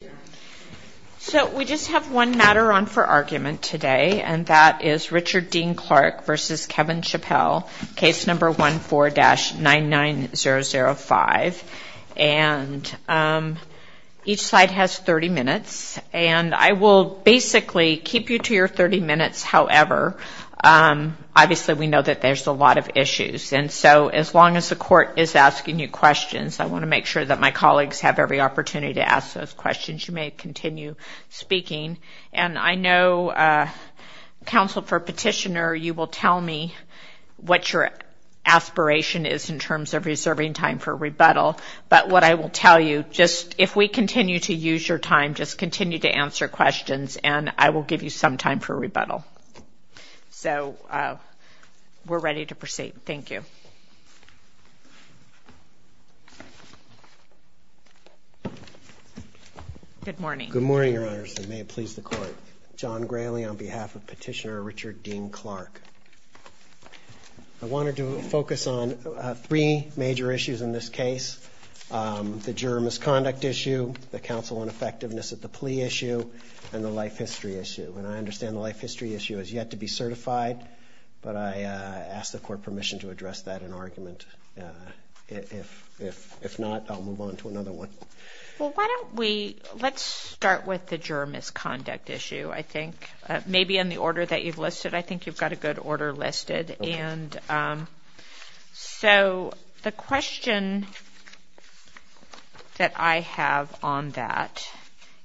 14-99005. Each slide has 30 minutes. I will basically keep you to your 30 minutes, however. Obviously, we know that there's a lot of issues. So as long as the court is asking you questions, I want to make sure that my colleagues have every opportunity to ask those questions. You may continue speaking. And I know, counsel for petitioner, you will tell me what your aspiration is in terms of reserving time for rebuttal. But what I will tell you, if we continue to use your time, just continue to answer questions, and I will give you some time for rebuttal. So we're ready to proceed. Thank you. Good morning. Good morning, Your Honor. May it please the court. John Grayley on behalf of Petitioner Richard Dean Clark. I wanted to focus on three major issues in this case. The juror misconduct issue, the counsel ineffectiveness of the plea issue, and the life history issue. And I understand the life history issue has yet to be certified, but I ask the court permission to address that in our case. If not, I'll move on to another one. Well, why don't we-let's start with the juror misconduct issue, I think. Maybe in the order that you've listed, I think you've got a good order listed. And so the question that I have on that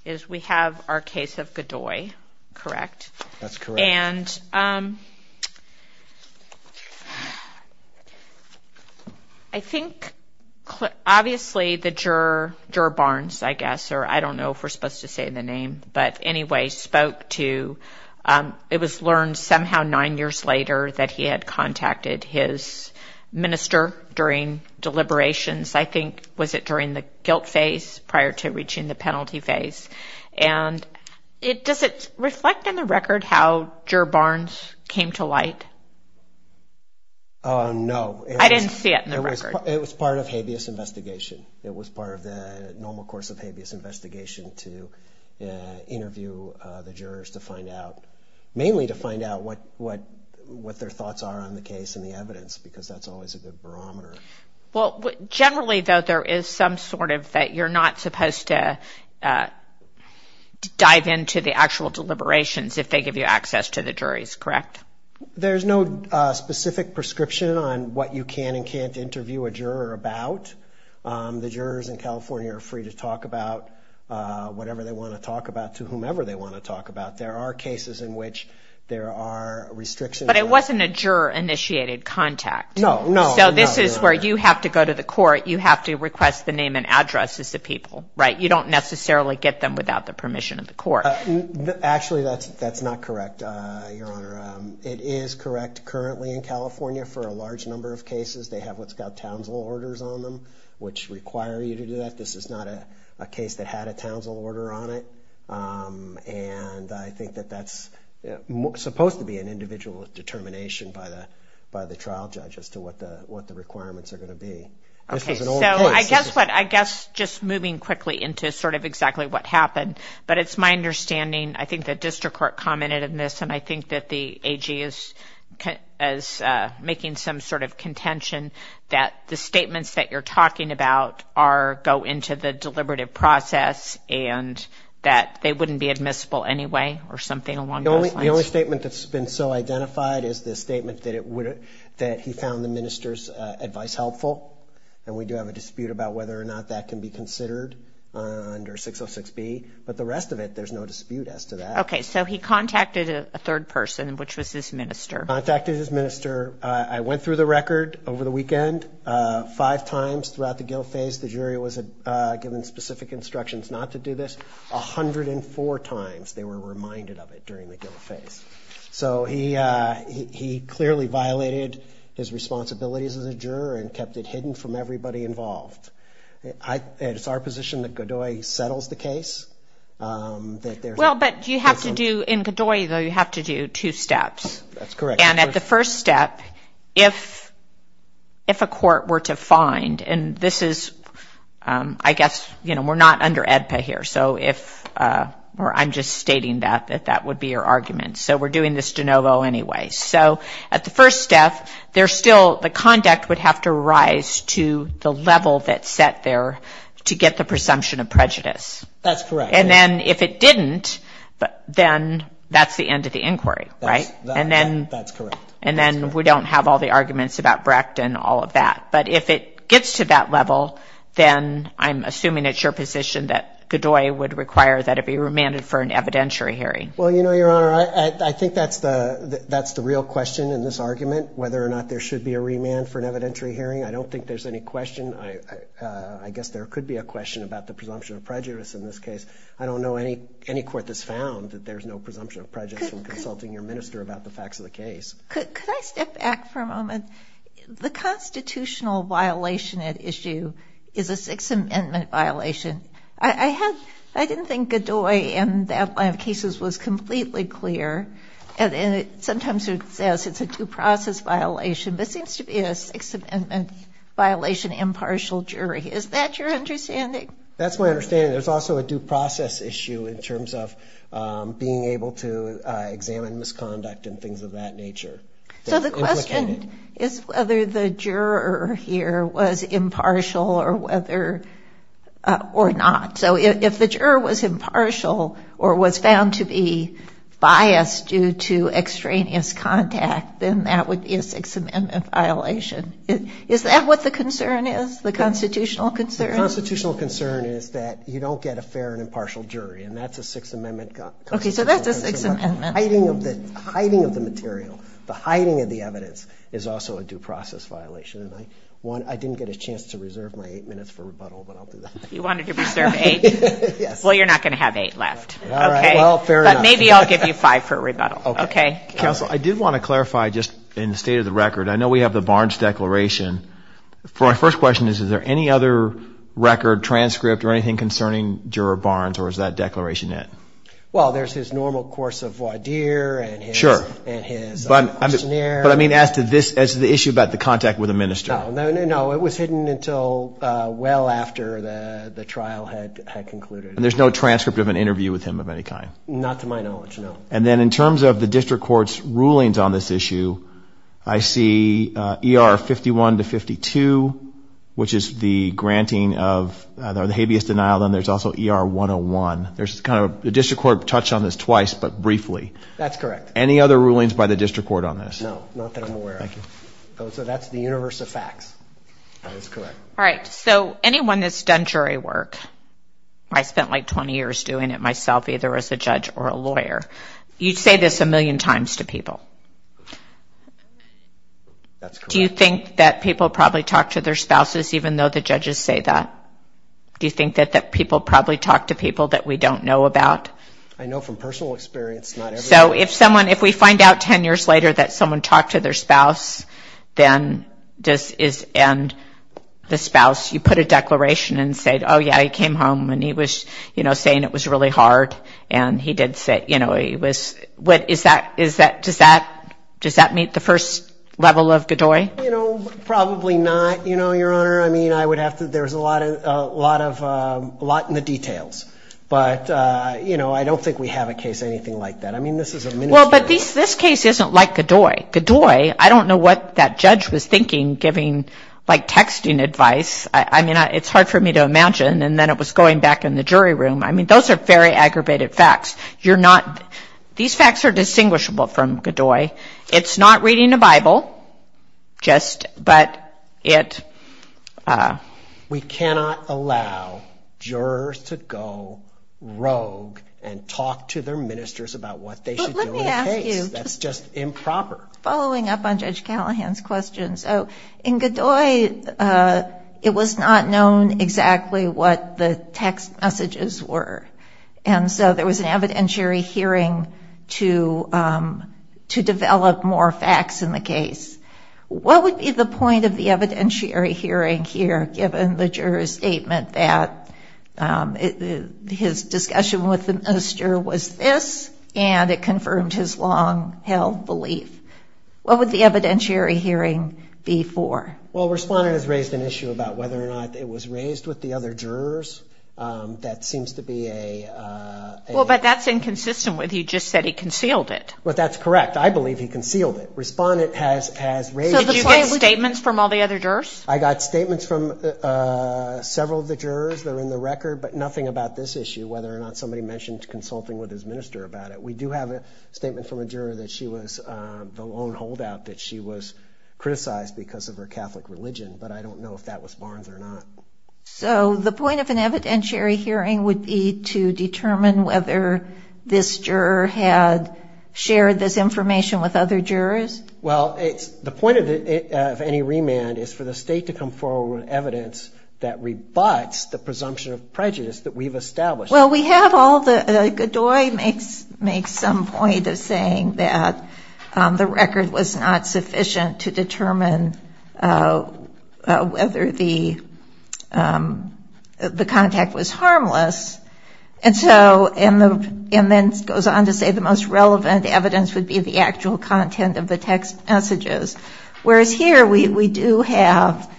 is we have our case of Godoy, correct? That's correct. Have you ever heard how Juror Barnes came to light? No. I didn't see it in the record. It was part of habeas investigation. It was part of the normal course of habeas investigation to interview the jurors to find out-mainly to find out what their thoughts are on the case and the evidence, because that's always a good barometer. Well, generally, though, there is some sort of-that you're not supposed to dive into the actual deliberations if they give you access to the juries, correct? There's no specific prescription on what you can and can't interview a juror about. The jurors in California are free to talk about whatever they want to talk about to whomever they want to talk about. There are cases in which there are restrictions. But it wasn't a juror-initiated contact. No, no. So this is where you have to go to the court. You have to request the name and address of the people, right? You don't necessarily get them without the permission of the court. Actually, that's not correct, Your Honor. It is correct currently in California for a large number of cases. They have what's called townsville orders on them, which require you to do that. This is not a case that had a townsville order on it. And I think that that's supposed to be an individual's determination by the trial judge as to what the requirements are going to be. I guess just moving quickly into sort of exactly what happened, but it's my understanding, I think the district court commented on this, and I think that the AG is making some sort of contention that the statements that you're talking about go into the deliberative process and that they wouldn't be admissible anyway or something along those lines. The only statement that's been so identified is the statement that he found the minister's advice helpful. And we do have a dispute about whether or not that can be considered under 606B. But the rest of it, there's no dispute as to that. Okay. So he contacted a third person, which was his minister. Contacted his minister. I went through the record over the weekend. Five times throughout the guilt phase, the jury was given specific instructions not to do this. A hundred and four times they were reminded of it during the guilt phase. So he clearly violated his responsibilities as a juror and kept it hidden from everybody involved. It's our position that Godoy settles the case. Well, but you have to do, in Godoy though, you have to do two steps. Correct. And at the first step, if a court were to find, and this is, I guess, you know, we're not under AEDPA here, so if, or I'm just stating that, that that would be your argument. So we're doing this de novo anyway. So at the first step, there's still, the conduct would have to rise to the level that's set there to get the presumption of prejudice. That's correct. And then if it didn't, then that's the end of the inquiry, right? That's correct. And then we don't have all the arguments about Brecht and all of that. But if it gets to that level, then I'm assuming it's your position that Godoy would require that it be remanded for an evidentiary hearing. Well, you know, Your Honor, I think that's the real question in this argument, whether or not there should be a remand for an evidentiary hearing. I don't think there's any question. I guess there could be a question about the presumption of prejudice in this case. I don't know any court that's found that there's no presumption of prejudice in consulting your minister about the facts of the case. Could I step back for a moment? The constitutional violation at issue is a Sixth Amendment violation. I didn't think Godoy in the Atlantic cases was completely clear. And sometimes it says it's a due process violation. This seems to be a Sixth Amendment violation impartial jury. Is that your understanding? That's my understanding. There's also a due process issue in terms of being able to examine misconduct and things of that nature. So the question is whether the juror here was impartial or not. So if the juror was impartial or was found to be biased due to extraneous contact, then that would be a Sixth Amendment violation. Is that what the concern is, the constitutional concern? The constitutional concern is that you don't get a fair and impartial jury. And that's a Sixth Amendment concern. Hiding of the material, the hiding of the evidence is also a due process violation. I didn't get a chance to reserve my eight minutes for rebuttal, but I'll do that. You wanted to reserve eight? Well, you're not going to have eight left. But maybe I'll give you five for rebuttal. Counsel, I did want to clarify, just in the state of the record, I know we have the Barnes declaration. My first question is, is there any other record, transcript, or anything concerning Juror Barnes, or is that declaration it? Well, there's his normal course of voir dire and his questionnaire. But I mean, as to the issue about the contact with the minister. No, it was hidden until well after the trial had concluded. And there's no transcript of an interview with him of any kind? Not to my knowledge, no. And then in terms of the district court's rulings on this issue, I see ER 51 to 52, which is the granting of the habeas denial, and there's also ER 101. The district court touched on this twice, but briefly. That's correct. Any other rulings by the district court on this? No, not that I'm aware of. So that's the universe of facts. That is correct. All right, so anyone that's done jury work, I spent like 20 years doing it myself, either as a judge or a lawyer. You say this a million times to people. That's correct. Do you think that people probably talk to their spouses, even though the judges say that? Do you think that people probably talk to people that we don't know about? I know from personal experience, not everybody. So if we find out 10 years later that someone talked to their spouse, then this is the spouse. You put a declaration and said, oh, yeah, he came home, and he was saying it was really hard, and he did sit. Does that meet the first level of the DOI? Probably not, Your Honor. I mean, I would have to – there's a lot in the details. But, you know, I don't think we have a case anything like that. Well, but this case isn't like the DOI. The DOI, I don't know what that judge was thinking, giving like texting advice. I mean, it's hard for me to imagine. And then it was going back in the jury room. I mean, those are very aggravated facts. You're not – these facts are distinguishable from the DOI. It's not reading a Bible. We cannot allow jurors to go rogue and talk to their ministers about what they should do on a case. That's just improper. Following up on Judge Callahan's question. So in the DOI, it was not known exactly what the text messages were. And so there was an evidentiary hearing to develop more facts in the case. What would be the point of the evidentiary hearing here, given the juror's statement that his discussion with the most juror was this, and it confirmed his long-held belief? What would the evidentiary hearing be for? Well, Respondent has raised an issue about whether or not it was raised with the other jurors. That seems to be a – Well, but that's inconsistent with he just said he concealed it. But that's correct. I believe he concealed it. Respondent has raised – So did you get statements from all the other jurors? I got statements from several of the jurors that are in the record, but nothing about this issue, whether or not somebody mentioned consulting with his minister about it. We do have a statement from a juror that she was – the long holdout that she was criticized because of her Catholic religion. But I don't know if that was Barnes or not. So the point of an evidentiary hearing would be to determine whether this juror had shared this information with other jurors? Well, the point of any remand is for the state to come forward with evidence that rebuts the presumption of prejudice that we've established. Well, we have all the – Godoy makes some point of saying that the record was not sufficient to determine whether the contact was harmless. And so – and then goes on to say the most relevant evidence would be the actual content of the text messages. Whereas here, we do have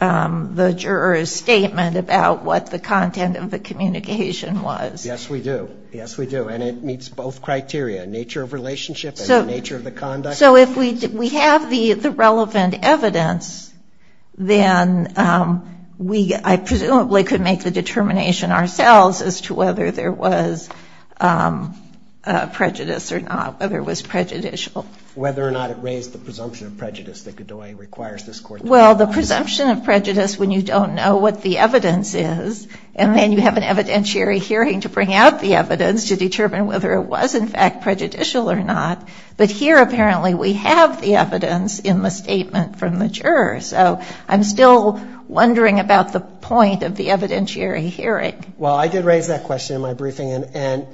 the juror's statement about what the content of the communication was. Yes, we do. Yes, we do. And it meets both criteria, nature of relationship and the nature of the conduct. So if we have the relevant evidence, then we presumably could make the determination ourselves as to whether there was prejudice or not, whether it was prejudicial. Whether or not it raised the presumption of prejudice that Godoy requires this court to – Well, the presumption of prejudice when you don't know what the evidence is, and then you have an evidentiary hearing to bring out the evidence to determine whether it was in fact prejudicial or not. But here, apparently, we have the evidence in the statement from the juror. So I'm still wondering about the point of the evidentiary hearing. Well, I did raise that question in my briefing,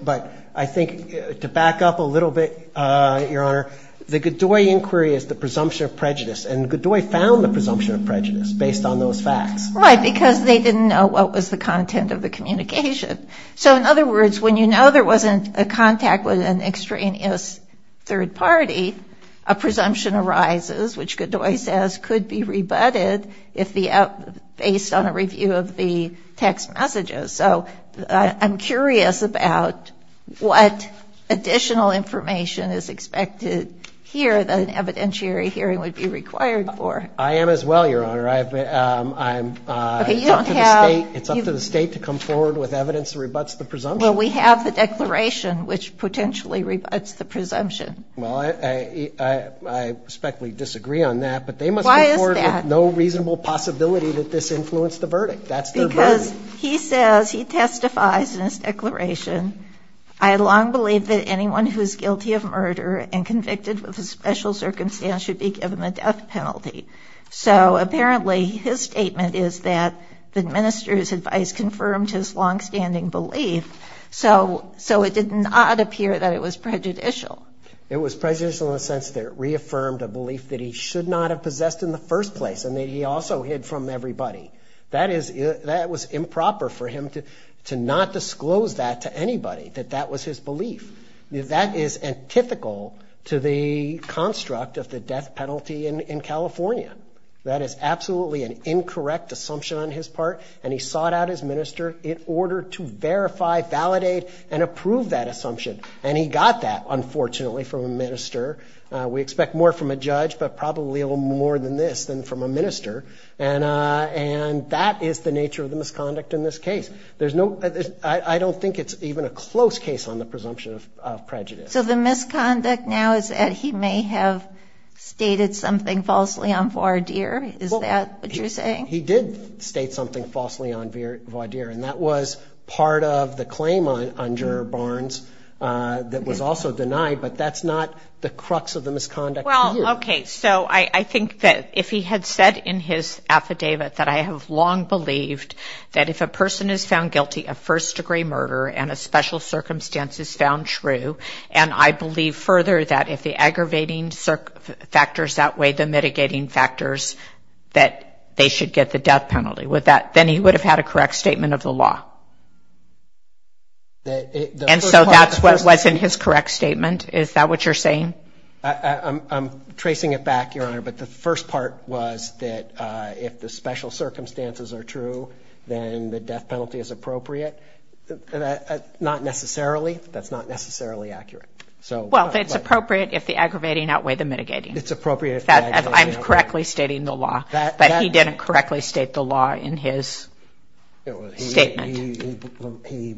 but I think to back up a little bit, Your Honor, the Godoy inquiry is the presumption of prejudice, and Godoy found the presumption of prejudice based on those facts. Right, because they didn't know what was the content of the communication. So in other words, when you know there wasn't a contact with an extraneous third party, a presumption arises, which Godoy says could be rebutted based on a review of the text messages. So I'm curious about what additional information is expected here that an evidentiary hearing would be required for. I am as well, Your Honor. It's up to the state to come forward with evidence that rebutts the presumption. Well, we have the declaration, which potentially rebutts the presumption. Well, I respectfully disagree on that, but they must come forward with no reasonable possibility that this influenced the verdict. Because he says, he testifies in his declaration, I long believe that anyone who is guilty of murder and convicted with a special circumstance should be given the death penalty. So apparently his statement is that the minister's advice confirmed his longstanding belief, so it did not appear that it was prejudicial. It was prejudicial in the sense that it reaffirmed a belief that he should not have possessed in the first place, and that he also hid from everybody. That was improper for him to not disclose that to anybody, that that was his belief. That is antithetical to the construct of the death penalty in California. That is absolutely an incorrect assumption on his part, and he sought out his minister in order to verify, validate, and approve that assumption. And he got that, unfortunately, from a minister. We expect more from a judge, but probably a little more than this than from a minister. And that is the nature of the misconduct in this case. I don't think it's even a close case on the presumption of prejudice. So the misconduct now is that he may have stated something falsely on voir dire, is that what you're saying? He did state something falsely on voir dire, and that was part of the claim on Juror Barnes that was also denied, but that's not the crux of the misconduct either. Okay, so I think that if he had said in his affidavit that I have long believed that if a person is found guilty of first-degree murder and a special circumstance is found true, and I believe further that if the aggravating factors outweigh the mitigating factors, that they should get the death penalty, then he would have had a correct statement of the law. And so that's what was in his correct statement, is that what you're saying? I'm tracing it back, Your Honor, but the first part was that if the special circumstances are true, then the death penalty is appropriate. Not necessarily. That's not necessarily accurate. Well, it's appropriate if the aggravating outweigh the mitigating. It's appropriate if the aggravating outweigh the mitigating. I'm correctly stating the law, that he didn't correctly state the law in his statement. He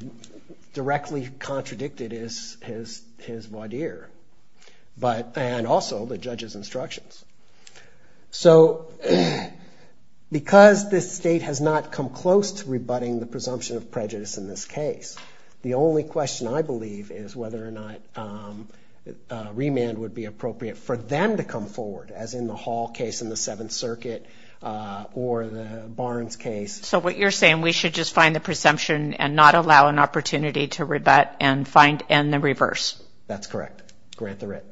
directly contradicted his voir dire, and also the judge's instructions. So because this State has not come close to rebutting the presumption of prejudice in this case, the only question, I believe, is whether or not remand would be appropriate for them to come forward, as in the Hall case in the Seventh Circuit or the Barnes case. So what you're saying, we should just find the presumption and not allow an opportunity to rebut and find in the reverse. That's correct. Grant the writ.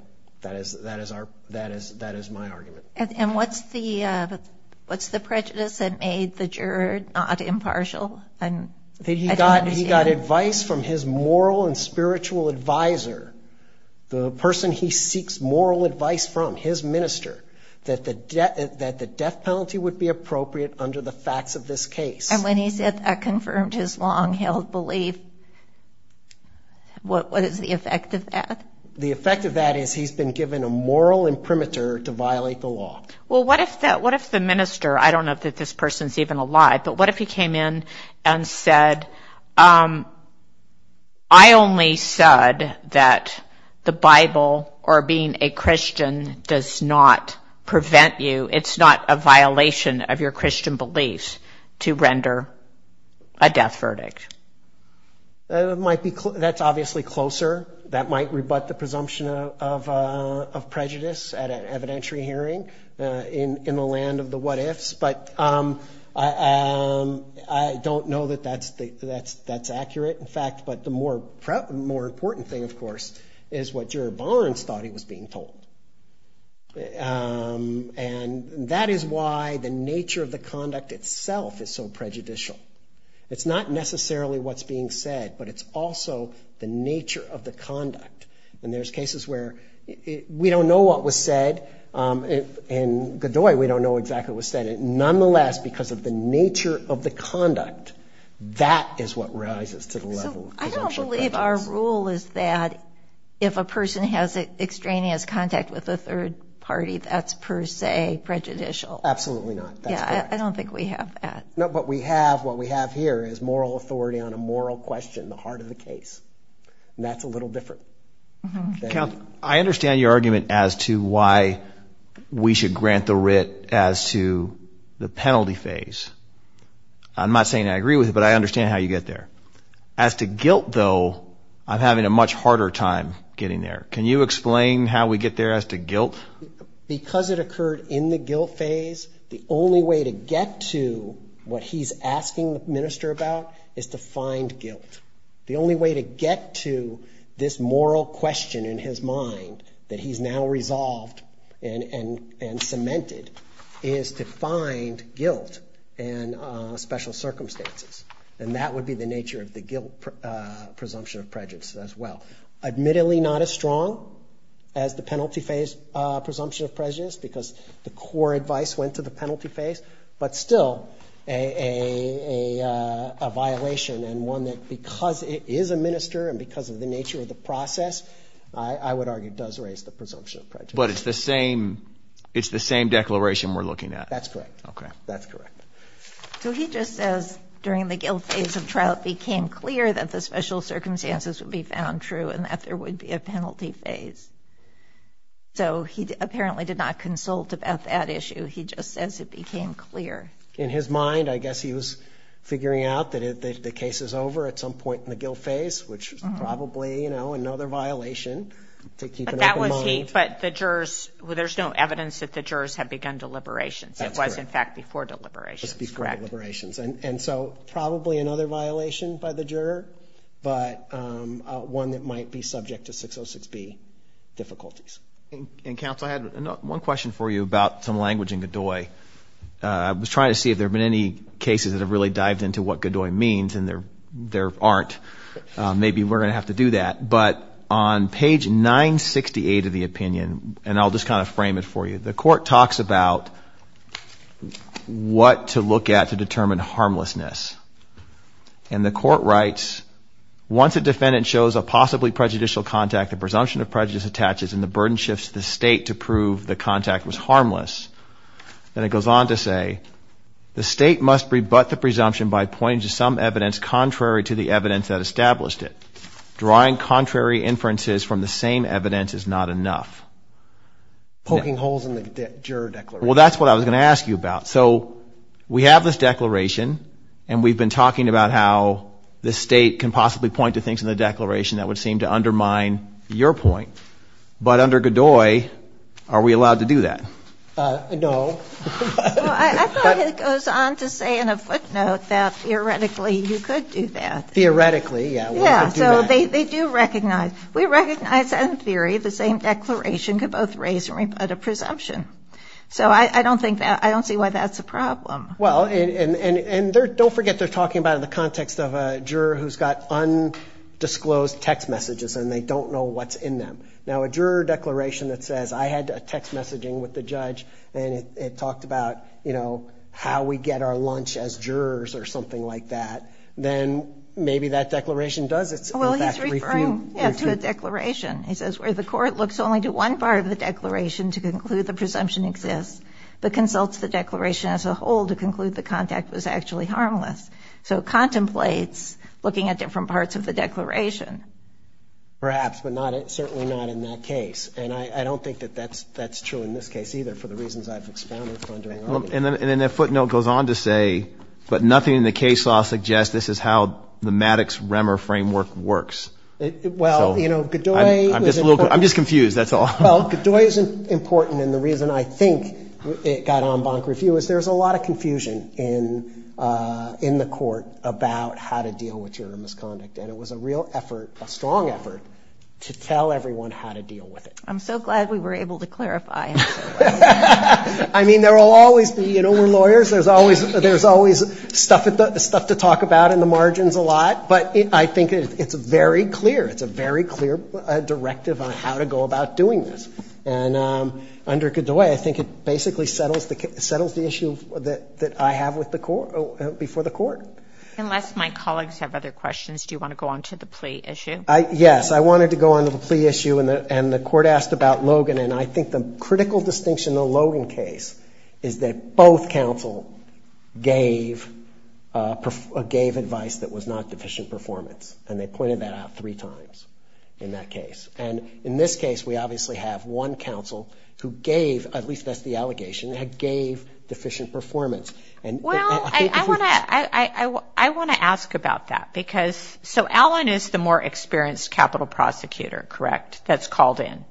That is my argument. And what's the prejudice that made the juror not impartial? He got advice from his moral and spiritual advisor, the person he seeks moral advice from, his minister, that the death penalty would be appropriate under the facts of this case. And when he said that confirmed his long-held belief, what is the effect of that? The effect of that is he's been given a moral imprimatur to violate the law. Well, what if the minister, I don't know if this person is even alive, but what if he came in and said, I only said that the Bible or being a Christian does not prevent you, it's not a violation of your Christian beliefs to render a death verdict. That's obviously closer. That might rebut the presumption of prejudice at an evidentiary hearing in the land of the what-ifs, but I don't know that that's accurate. In fact, the more important thing, of course, is what juror Barnes thought he was being told. And that is why the nature of the conduct itself is so prejudicial. It's not necessarily what's being said, but it's also the nature of the conduct. And there's cases where we don't know what was said. In Godoy, we don't know exactly what was said. Nonetheless, because of the nature of the conduct, that is what rises to the level. I don't believe our rule is that if a person has extraneous contact with a third party, that's per se prejudicial. Absolutely not. Yeah, I don't think we have that. No, but we have, what we have here is moral authority on a moral question, the heart of the case. And that's a little different. I understand your argument as to why we should grant the writ as to the penalty phase. I'm not saying I agree with it, but I understand how you get there. As to guilt, though, I'm having a much harder time getting there. Can you explain how we get there as to guilt? Because it occurred in the guilt phase, the only way to get to what he's asking the minister about is to find guilt. The only way to get to this moral question in his mind that he's now resolved and cemented is to find guilt and special circumstances. And that would be the nature of the guilt presumption of prejudice as well. Admittedly not as strong as the penalty phase presumption of prejudice because the core advice went to the penalty phase, but still a violation and one that because it is a minister and because of the nature of the process, I would argue does raise the presumption of prejudice. But it's the same declaration we're looking at. That's correct. Okay. That's correct. So he just says during the guilt phase of trial it became clear that the special circumstances would be found true and that there would be a penalty phase. So he apparently did not consult about that issue. He just said it became clear. In his mind, I guess he was figuring out that the case is over at some point in the guilt phase, which is probably another violation. But that would be, but the jurors, there's no evidence that the jurors have begun deliberations. That's correct. It was in fact before deliberations. Before deliberations. And so probably another violation by the juror, but one that might be subject to 606B difficulties. Counsel, I had one question for you about some language in Godoy. I was trying to see if there had been any cases that have really dived into what Godoy means and there aren't. Maybe we're going to have to do that. But on page 968 of the opinion, and I'll just kind of frame it for you, the court talks about what to look at to determine harmlessness. And the court writes, once a defendant shows a possibly prejudicial contact, a presumption of prejudice attaches, and the burden shifts to the state to prove the contact was harmless, then it goes on to say, The state must rebut the presumption by pointing to some evidence contrary to the evidence that established it. Drawing contrary inferences from the same evidence is not enough. Poking holes in the juror declaration. Well, that's what I was going to ask you about. So we have this declaration, and we've been talking about how the state can possibly point to things in the declaration that would seem to undermine your point. But under Godoy, are we allowed to do that? No. I thought it goes on to say in a footnote that theoretically you could do that. Theoretically, yeah. Yeah, so they do recognize. We recognize that in theory the same declaration could both raise and rebut a presumption. So I don't see why that's a problem. Well, and don't forget they're talking about it in the context of a juror who's got undisclosed text messages and they don't know what's in them. Now, a juror declaration that says, I had a text messaging with the judge and it talked about, you know, how we get our lunch as jurors or something like that, then maybe that declaration doesn't. Well, he's referring to a declaration. He says, where the court looks only to one part of the declaration to conclude the presumption exists, but consults the declaration as a whole to conclude the context is actually harmless. So contemplates looking at different parts of the declaration. Perhaps, but certainly not in that case. And I don't think that that's true in this case either for the reasons I've expounded. And then that footnote goes on to say, but nothing in the case law suggests this is how the Maddox-Remmer framework works. Well, you know, Godoy. I'm just confused, that's all. Well, Godoy is important and the reason I think it got on Bonk Review is there's a lot of confusion in the court about how to deal with juror misconduct. And it was a real effort, a strong effort, to tell everyone how to deal with it. I'm so glad we were able to clarify. I mean, there will always be, you know, we're lawyers, there's always stuff to talk about in the margins a lot. But I think it's very clear, it's a very clear directive on how to go about doing this. And under Godoy, I think it basically settles the issue that I have with the court, before the court. Unless my colleagues have other questions, do you want to go on to the plea issue? Yes, I wanted to go on to the plea issue and the court asked about Logan. And I think the critical distinction in the Logan case is that both counsel gave advice that was not deficient performance. And they pointed that out three times in that case. And in this case, we obviously have one counsel who gave, at least that's the allegation, gave deficient performance. Well, I want to ask about that because, so Alan is the more experienced capital prosecutor, correct, that's called in?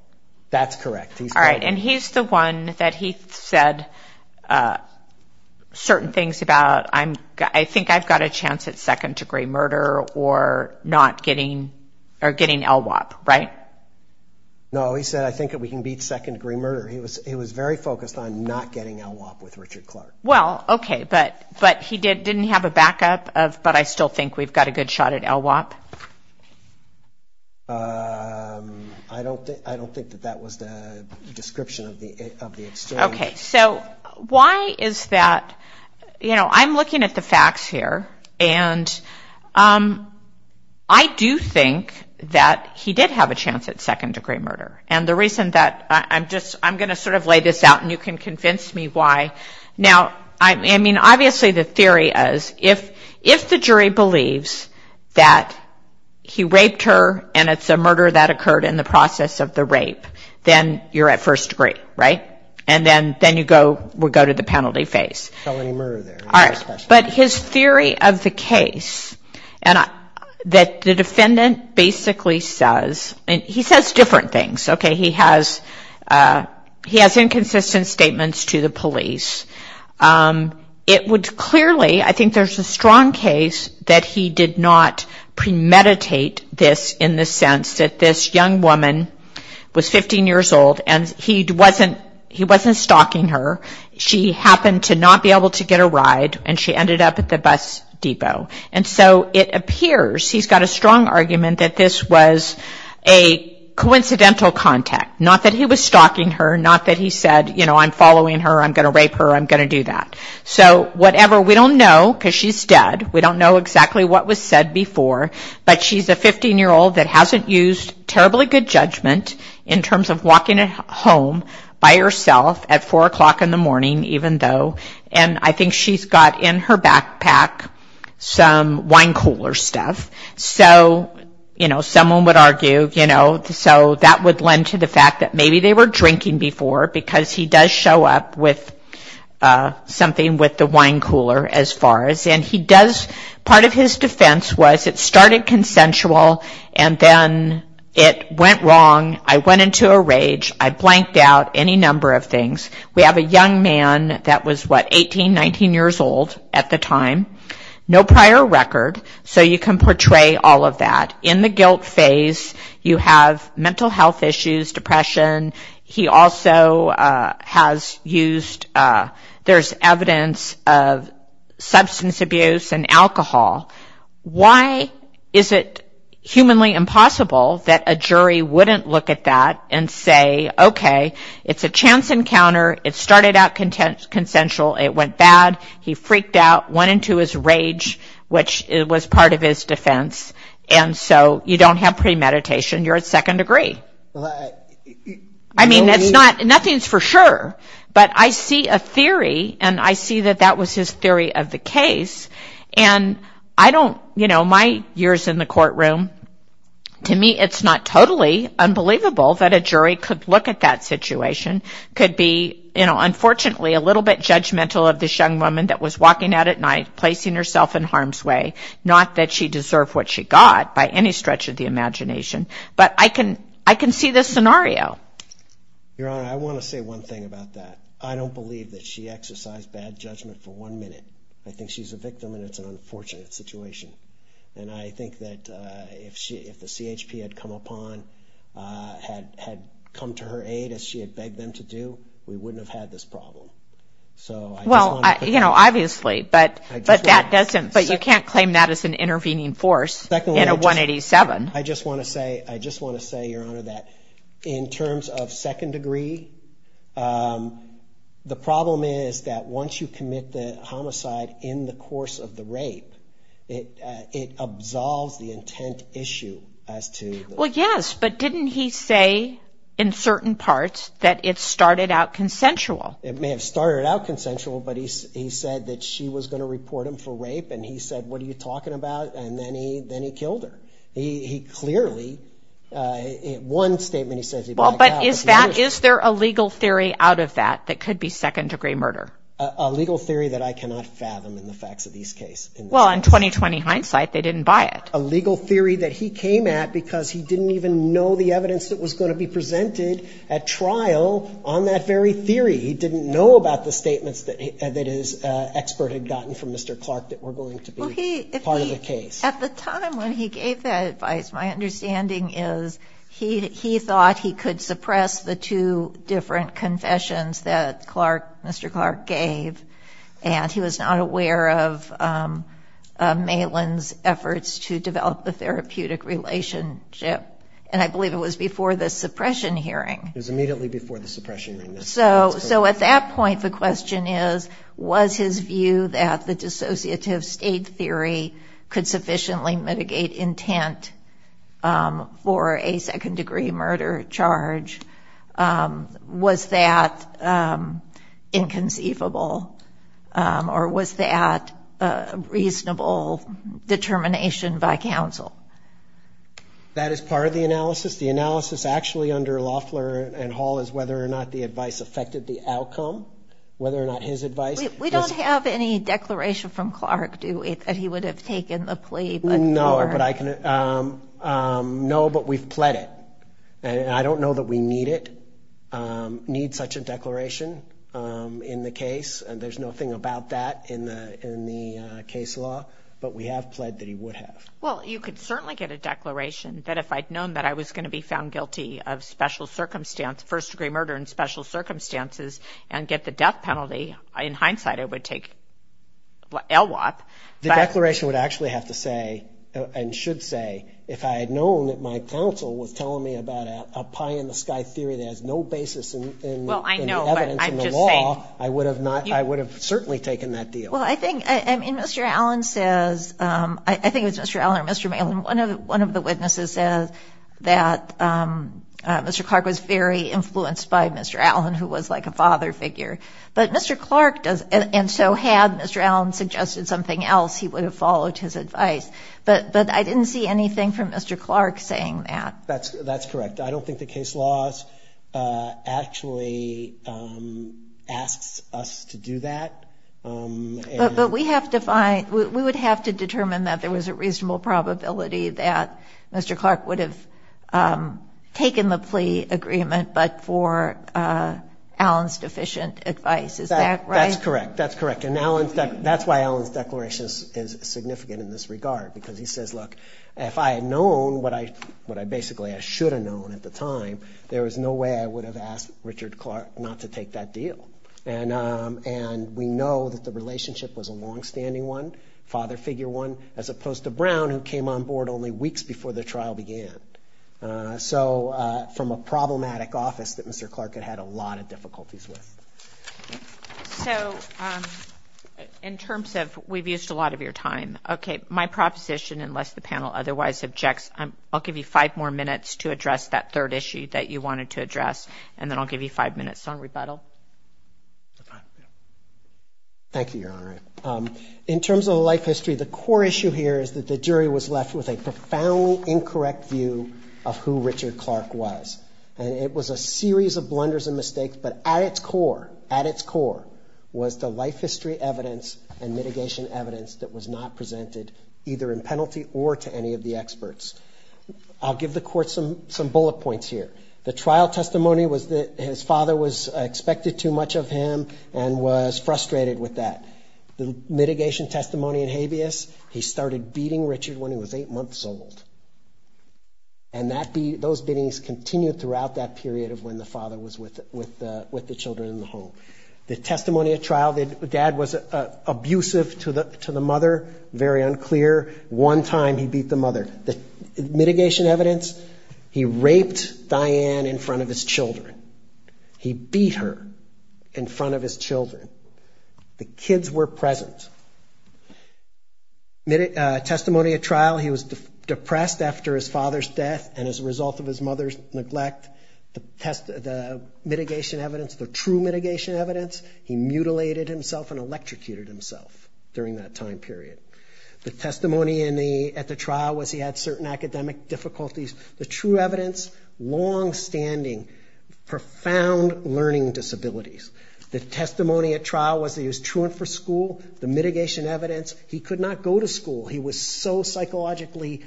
That's correct. All right, and he's the one that he said certain things about, I think I've got a chance at second degree murder or not getting, or getting LWOP, right? No, he said, I think that we can beat second degree murder. He was very focused on not getting LWOP with Richard Clark. Well, okay, but he didn't have a backup of, but I still think we've got a good shot at LWOP. I don't think that that was the description of the experience. Okay, so why is that, you know, I'm looking at the facts here. And I do think that he did have a chance at second degree murder. And the reason that, I'm just, I'm going to sort of lay this out and you can convince me why. Now, I mean, obviously the theory is, if the jury believes that he raped her and it's a murder that occurred in the process of the rape, then you're at first degree, right? And then you go, we'll go to the penalty phase. All right, but his theory of the case that the defendant basically says, and he says different things. Okay, he has inconsistent statements to the police. It would clearly, I think there's a strong case that he did not premeditate this in the sense that this young woman was 15 years old and he wasn't stalking her. She happened to not be able to get a ride and she ended up at the bus depot. And so it appears he's got a strong argument that this was a coincidental contact. Not that he was stalking her, not that he said, you know, I'm following her, I'm going to rape her, I'm going to do that. So whatever, we don't know because she's dead. We don't know exactly what was said before, but she's a 15 year old that hasn't used terribly good judgment in terms of walking home by herself at four o'clock in the morning, even though, and I think she's got in her backpack, some wine cooler stuff. So, you know, someone would argue, you know, so that would lend to the fact that maybe they were drinking before because he does show up with something with the wine cooler as far as, and he does, part of his defense was it started consensual and then it went wrong. I went into a rage. I blanked out any number of things. We have a young man that was, what, 18, 19 years old at the time. No prior record, so you can portray all of that. In the guilt phase, you have mental health issues, depression. He also has used, there's evidence of substance abuse and alcohol. Why is it humanly impossible that a jury wouldn't look at that and say, okay, it's a chance encounter. It started out consensual. It went bad. He freaked out, went into his rage, which was part of his defense. And so you don't have premeditation. You're at second degree. I mean, nothing's for sure, but I see a theory, and I see that that was his theory of the case. And I don't, you know, my years in the courtroom, to me it's not totally unbelievable that a jury could look at that situation. Could be, you know, unfortunately a little bit judgmental of this young woman that was walking out at night, placing herself in harm's way. Not that she deserved what she got by any stretch of the imagination. But I can see this scenario. Your Honor, I want to say one thing about that. I don't believe that she exercised bad judgment for one minute. I think she's a victim, and it's an unfortunate situation. And I think that if the CHP had come upon, had come to her aid as she had begged them to do, we wouldn't have had this problem. Well, you know, obviously, but you can't claim that as an intervening force in a 187. I just want to say, I just want to say, Your Honor, that in terms of second degree, the problem is that once you commit the homicide in the course of the rape, it absolves the intent issue as to – Well, yes, but didn't he say in certain parts that it started out consensual? It may have started out consensual, but he said that she was going to report him for rape, and he said, what are you talking about? And then he killed her. He clearly – one statement he says he'd like to have. Well, but is that – is there a legal theory out of that that could be second degree murder? A legal theory that I cannot fathom in the facts of this case. Well, in 20-20 hindsight, they didn't buy it. A legal theory that he came at because he didn't even know the evidence that was going to be presented at trial on that very theory. He didn't know about the statements that his expert had gotten from Mr. Clark that were going to be part of the case. At the time when he gave that advice, my understanding is he thought he could suppress the two different confessions that Mr. Clark gave, and he was not aware of Malin's efforts to develop the therapeutic relationship, and I believe it was before the suppression hearing. It was immediately before the suppression hearing. So at that point, the question is, was his view that the dissociative state theory could sufficiently mitigate intent for a second degree murder charge, was that inconceivable, or was that a reasonable determination by counsel? That is part of the analysis. The analysis actually under Loeffler and Hall is whether or not the advice affected the outcome, whether or not his advice. We don't have any declaration from Clark, do we, that he would have taken the plea? No, but we've pled it, and I don't know that we need it, need such a declaration in the case, and there's nothing about that in the case law, but we have pled that he would have. Well, you could certainly get a declaration that if I'd known that I was going to be found guilty of first degree murder in special circumstances and get the death penalty, in hindsight it would take a lot. The declaration would actually have to say, and should say, if I had known that my counsel was telling me about a pie-in-the-sky theory that has no basis in the evidence in the law, I would have certainly taken that deal. Well, I think, I mean, Mr. Allen says, I think it was Mr. Allen or Mr. Malin, one of the witnesses said that Mr. Clark was very influenced by Mr. Allen, who was like a father figure, but Mr. Clark does, and so had Mr. Allen suggested something else, he would have followed his advice, but I didn't see anything from Mr. Clark saying that. That's correct. I don't think the case law actually asks us to do that. But we have to find, we would have to determine that there was a reasonable probability that Mr. Clark would have taken the plea agreement, but for Allen's deficient advice, is that right? That's correct, that's correct, and that's why Allen's declaration is significant in this regard, because he says, look, if I had known what I basically, I should have known at the time, there was no way I would have asked Richard Clark not to take that deal, and we know that the relationship was a longstanding one, father figure one, as opposed to Brown, who came on board only weeks before the trial began. So from a problematic office that Mr. Clark had had a lot of difficulties with. So in terms of, we've used a lot of your time. Okay, my proposition, unless the panel otherwise objects, I'll give you five more minutes to address that third issue that you wanted to address, and then I'll give you five minutes on rebuttal. Thank you, Your Honor. In terms of the life history, the core issue here is that the jury was left with a profoundly incorrect view of who Richard Clark was, and it was a series of blunders and mistakes, but at its core, at its core, was the life history evidence and mitigation evidence that was not presented either in penalty or to any of the experts. I'll give the court some bullet points here. The trial testimony was that his father was expected too much of him and was frustrated with that. The mitigation testimony and habeas, he started beating Richard when he was eight months old, and those beatings continued throughout that period of when the father was with the children in the home. The testimony at trial, the dad was abusive to the mother, very unclear. One time he beat the mother. Mitigation evidence, he raped Diane in front of his children. He beat her in front of his children. The kids were present. Testimony at trial, he was depressed after his father's death and as a result of his mother's neglect. The mitigation evidence, the true mitigation evidence, he mutilated himself and electrocuted himself during that time period. The testimony at the trial was he had certain academic difficulties. The true evidence, longstanding, profound learning disabilities. The testimony at trial was he was truant for school. The mitigation evidence, he could not go to school. He was so psychologically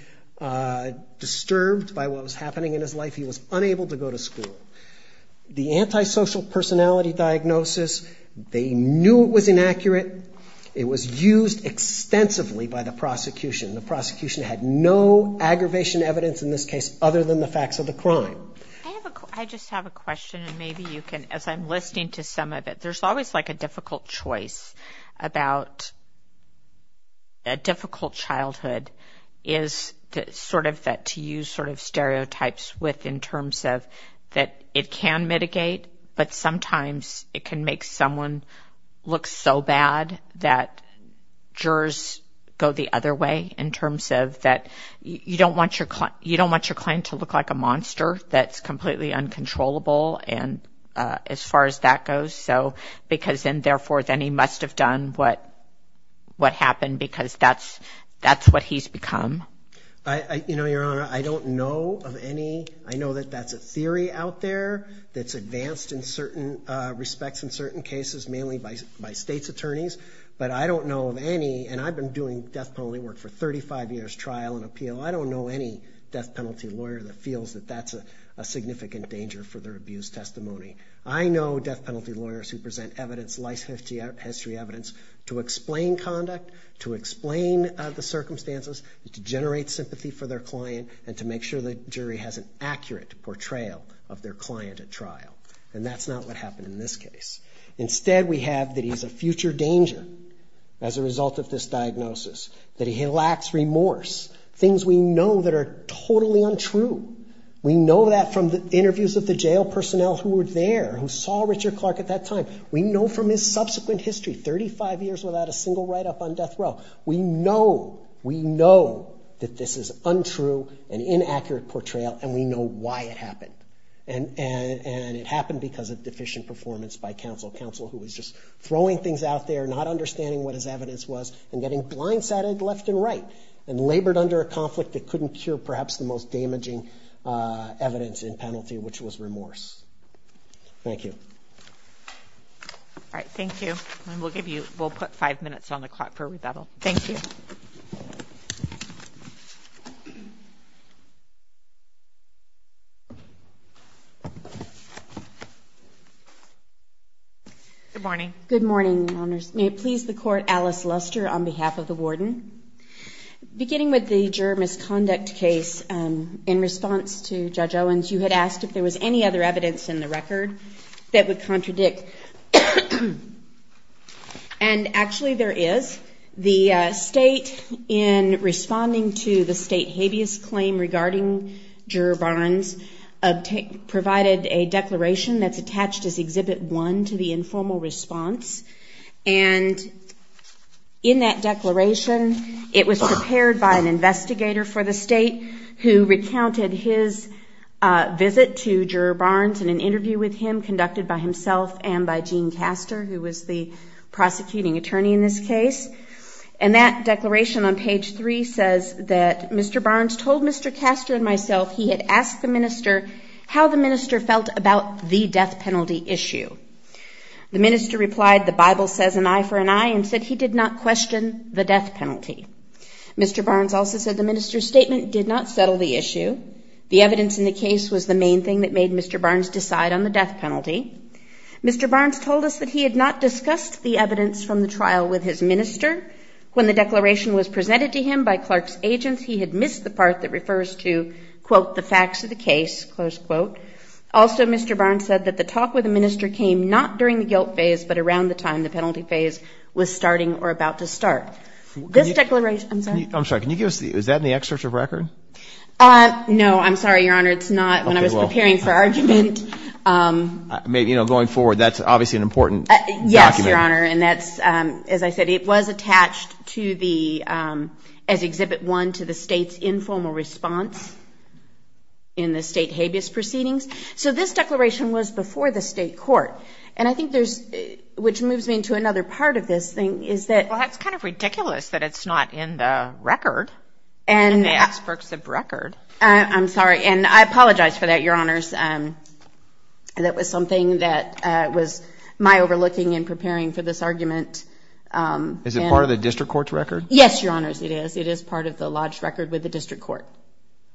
disturbed by what was happening in his life, he was unable to go to school. The antisocial personality diagnosis, they knew it was inaccurate. It was used extensively by the prosecution. The prosecution had no aggravation evidence in this case other than the facts of the crime. I just have a question and maybe you can, as I'm listening to some of it, there's always like a difficult choice about a difficult childhood, is sort of that to use sort of stereotypes with in terms of that it can mitigate, but sometimes it can make someone look so bad that jurors go the other way in terms of that you don't want your client to look like a monster that's completely uncontrollable as far as that goes, because then therefore then he must have done what happened because that's what he's become. You know, Your Honor, I don't know of any. I know that that's a theory out there that's advanced in certain respects in certain cases mainly by state's attorneys, but I don't know of any, and I've been doing death penalty work for 35 years, trial and appeal. I don't know any death penalty lawyer that feels that that's a significant danger for their abuse testimony. I know death penalty lawyers who present evidence, life history evidence, to explain conduct, to explain the circumstances, to generate sympathy for their client, and to make sure the jury has an accurate portrayal of their client at trial, and that's not what happened in this case. Instead we have that he's a future danger as a result of this diagnosis, that he lacks remorse, things we know that are totally untrue. We know that from the interviews of the jail personnel who were there, who saw Richard Clark at that time. We know from his subsequent history, 35 years without a single write-up on death row. We know, we know that this is untrue and inaccurate portrayal, and we know why it happened, and it happened because of deficient performance by counsel. Counsel who was just throwing things out there, not understanding what his evidence was, and getting blindsided left and right, and labored under a conflict that couldn't cure perhaps the most damaging evidence in penalty, which was remorse. Thank you. All right, thank you, and we'll put five minutes on the clock for rebuttal. Thank you. Good morning. Good morning. May it please the court, Alice Luster on behalf of the warden. Beginning with the juror misconduct case, in response to Judge Owens, you had asked if there was any other evidence in the record that would contradict. And actually there is. The state, in responding to the state habeas claim regarding juror bonds, provided a declaration that's attached as Exhibit 1 to the informal response, and in that declaration it was prepared by an investigator for the state who recounted his visit to Juror Barnes and an interview with him conducted by himself and by Gene Castor, who was the prosecuting attorney in this case. And that declaration on page 3 says that Mr. Barnes told Mr. Castor and myself he had asked the minister how the minister felt about the death penalty issue. The minister replied, the Bible says an eye for an eye, and said he did not question the death penalty. Mr. Barnes also said the minister's statement did not settle the issue. The evidence in the case was the main thing that made Mr. Barnes decide on the death penalty. Mr. Barnes told us that he had not discussed the evidence from the trial with his minister. When the declaration was presented to him by Clark's agents, he had missed the part that refers to, quote, the facts of the case, close quote. Also, Mr. Barnes said that the talk with the minister came not during the guilt phase, but around the time the penalty phase was starting or about to start. This declaration... I'm sorry, can you give us the... is that in the excerpt of record? No, I'm sorry, Your Honor, it's not. Okay, well... When I was preparing for argument... Maybe, you know, going forward, that's obviously an important document. Yes, Your Honor, and that's, as I said, it was attached to the... as Exhibit 1 to the state's informal response in the state habeas proceedings. So this declaration was before the state court, and I think there's... which moves me into another part of this thing, is that... Well, that's kind of ridiculous that it's not in the record, in the excerpts of record. I'm sorry, and I apologize for that, Your Honors. That was something that was my overlooking in preparing for this argument. Is it part of the district court's record? Yes, Your Honors, it is. It is part of the lodge record with the district court.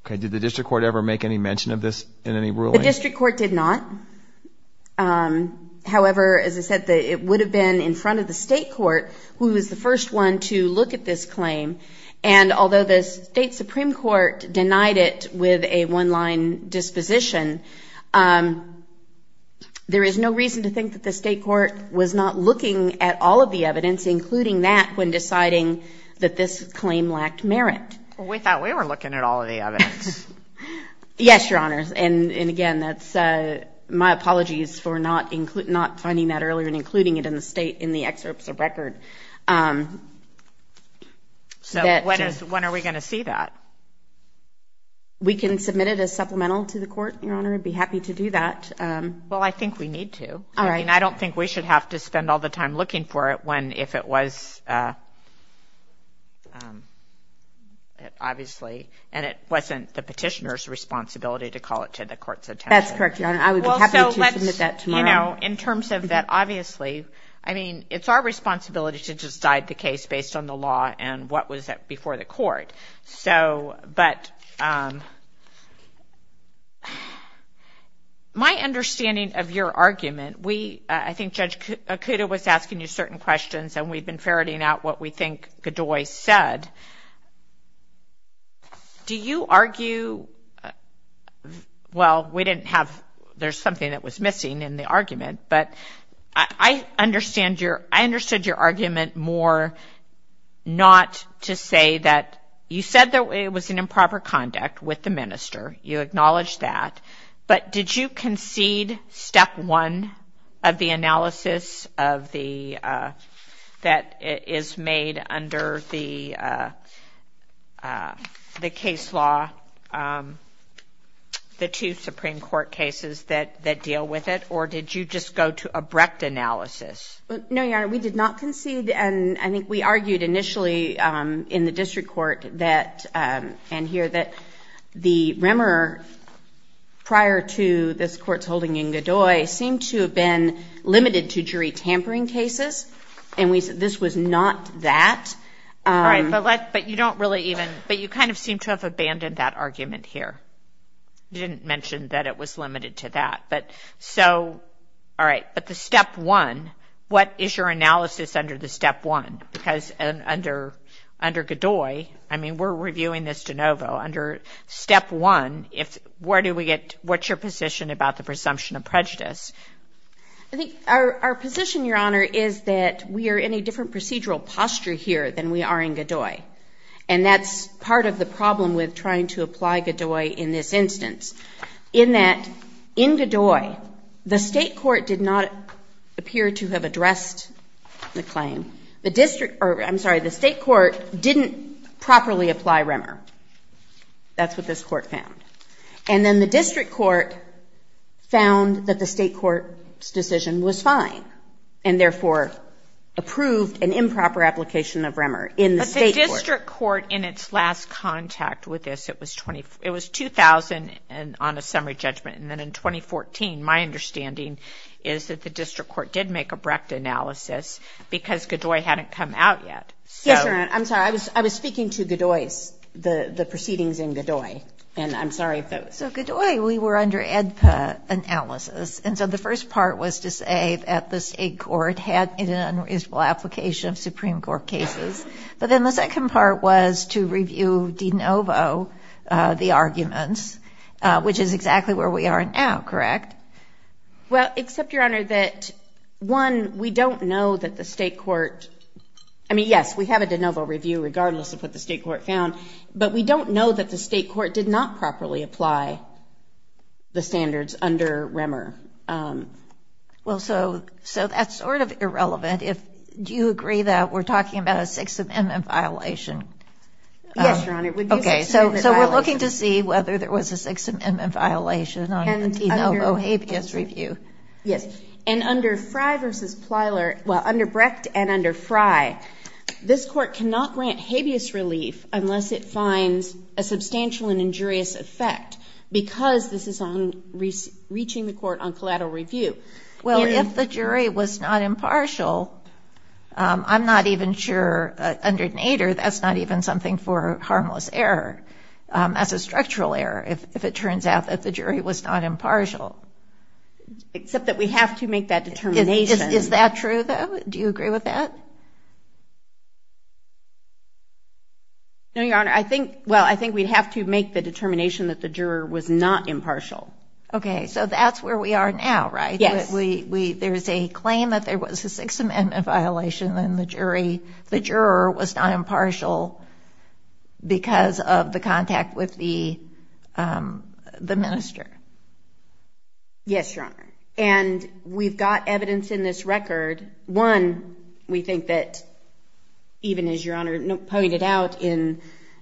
Okay, did the district court ever make any mention of this in any ruling? The district court did not. However, as I said, it would have been in front of the state court, who was the first one to look at this claim, and although the state supreme court denied it with a one-line disposition, there is no reason to think that the state court was not looking at all of the evidence, including that, when deciding that this claim lacked merit. We thought we were looking at all of the evidence. Yes, Your Honors, and again, my apologies for not finding that earlier and including it in the state, in the excerpts of record. So when are we going to see that? We can submit it as supplemental to the court, Your Honor. I'd be happy to do that. Well, I think we need to. All right. I don't think we should have to spend all the time looking for it if it was, obviously, and it wasn't the petitioner's responsibility to call it to the court's attention. That's correct, Your Honor. I would be happy to submit that tomorrow. You know, in terms of that, obviously, I mean, it's our responsibility to decide the case based on the law and what was before the court, but my understanding of your argument, I think Judge Okuda was asking you certain questions, and we've been ferreting out what we think Godoy said. Do you argue, well, we didn't have, there's something that was missing in the argument, but I understand your, I understood your argument more not to say that, you said that it was an improper conduct with the minister, you acknowledged that, but did you concede step one of the analysis that is made under the case law, the two Supreme Court cases that deal with it, or did you just go to abrupt analysis? No, Your Honor, we did not concede. I think we argued initially in the district court that, and here, that the rumor prior to this court's holding Ngodoy seemed to have been limited to jury tampering cases, and this was not that. All right, but you don't really even, but you kind of seem to have abandoned that argument here. You didn't mention that it was limited to that. All right, but the step one, what is your analysis under the step one? Because under Ngodoy, I mean, we're reviewing this de novo. Under step one, where do we get, what's your position about the presumption of prejudice? Our position, Your Honor, is that we are in a different procedural posture here than we are in Ngodoy, and that's part of the problem with trying to apply Ngodoy in this instance, in that, in Ngodoy, the state court did not appear to have addressed the claim. The district, or I'm sorry, the state court didn't properly apply Remmer. That's what this court found. And then the district court found that the state court's decision was fine, and therefore approved an improper application of Remmer in the state court. The district court, in its last contact with this, it was 2000 on a summary judgment, and then in 2014, my understanding is that the district court did make a Brecht analysis, because Ngodoy hadn't come out yet. Yes, Your Honor, I'm sorry. I was speaking to Ngodoy, the proceedings in Ngodoy, and I'm sorry if that was... So Ngodoy, we were under EDPA analysis, and so the first part was to say that the state court had an unreasonable application of Supreme Court cases, but then the second part was to review de novo the arguments, which is exactly where we are now, correct? Well, except, Your Honor, that one, we don't know that the state court, I mean, yes, we have a de novo review regardless of what the state court found, but we don't know that the state court did not properly apply the standards under Remmer. Well, so that's sort of irrelevant. Do you agree that we're talking about a Sixth Amendment violation? Yes, Your Honor. Okay, so we're looking to see whether there was a Sixth Amendment violation on the de novo habeas review. Yes, and under Brecht and under Frey, this court cannot grant habeas relief unless it finds a substantial and injurious effect, because this is reaching the court on collateral review. Well, if the jury was not impartial, I'm not even sure, under Nader, that's not even something for harmless error. That's a structural error, if it turns out that the jury was not impartial. Except that we have to make that determination. Is that true, though? Do you agree with that? No, Your Honor. Well, I think we have to make the determination that the juror was not impartial. Okay, so that's where we are now, right? Yes. There's a claim that there was a Sixth Amendment violation and the juror was not impartial because of the contact with the minister. Yes, Your Honor. And we've got evidence in this record. One, we think that, even as Your Honor pointed out in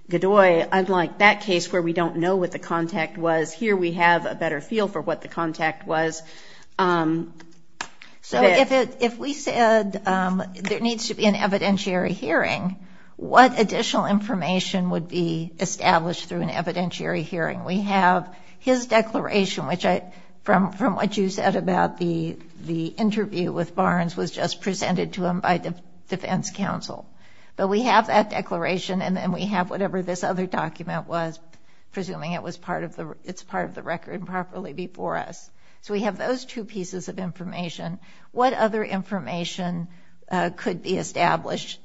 Dodoy, I'd like that case where we don't know what the contact was, here we have a better feel for what the contact was. So if we said there needs to be an evidentiary hearing, what additional information would be established through an evidentiary hearing? We have his declaration, which from what you said about the interview with Barnes was just presented to him by the defense counsel. So we have that declaration and then we have whatever this other document was, presuming it's part of the record properly before us. So we have those two pieces of information. What other information could be established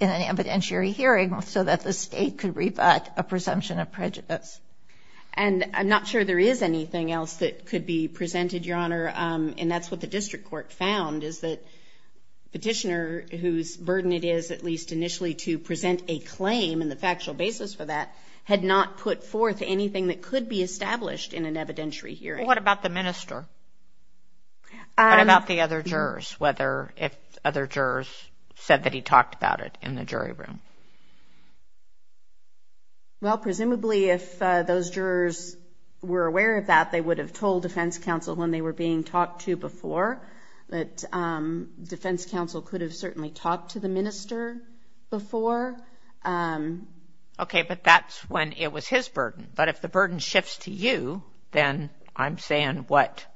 in an evidentiary hearing so that the state could rebut a presumption of prejudice? And I'm not sure there is anything else that could be presented, Your Honor, and that's what the district court found, is that the petitioner, whose burden it is, at least initially, to present a claim and the factual basis for that, had not put forth anything that could be established in an evidentiary hearing. What about the minister? What about the other jurors, whether if other jurors said that he talked about it in the jury room? Well, presumably if those jurors were aware of that, they would have told defense counsel when they were being talked to before. But defense counsel could have certainly talked to the minister before. Okay, but that's when it was his burden. But if the burden shifts to you, then I'm saying what?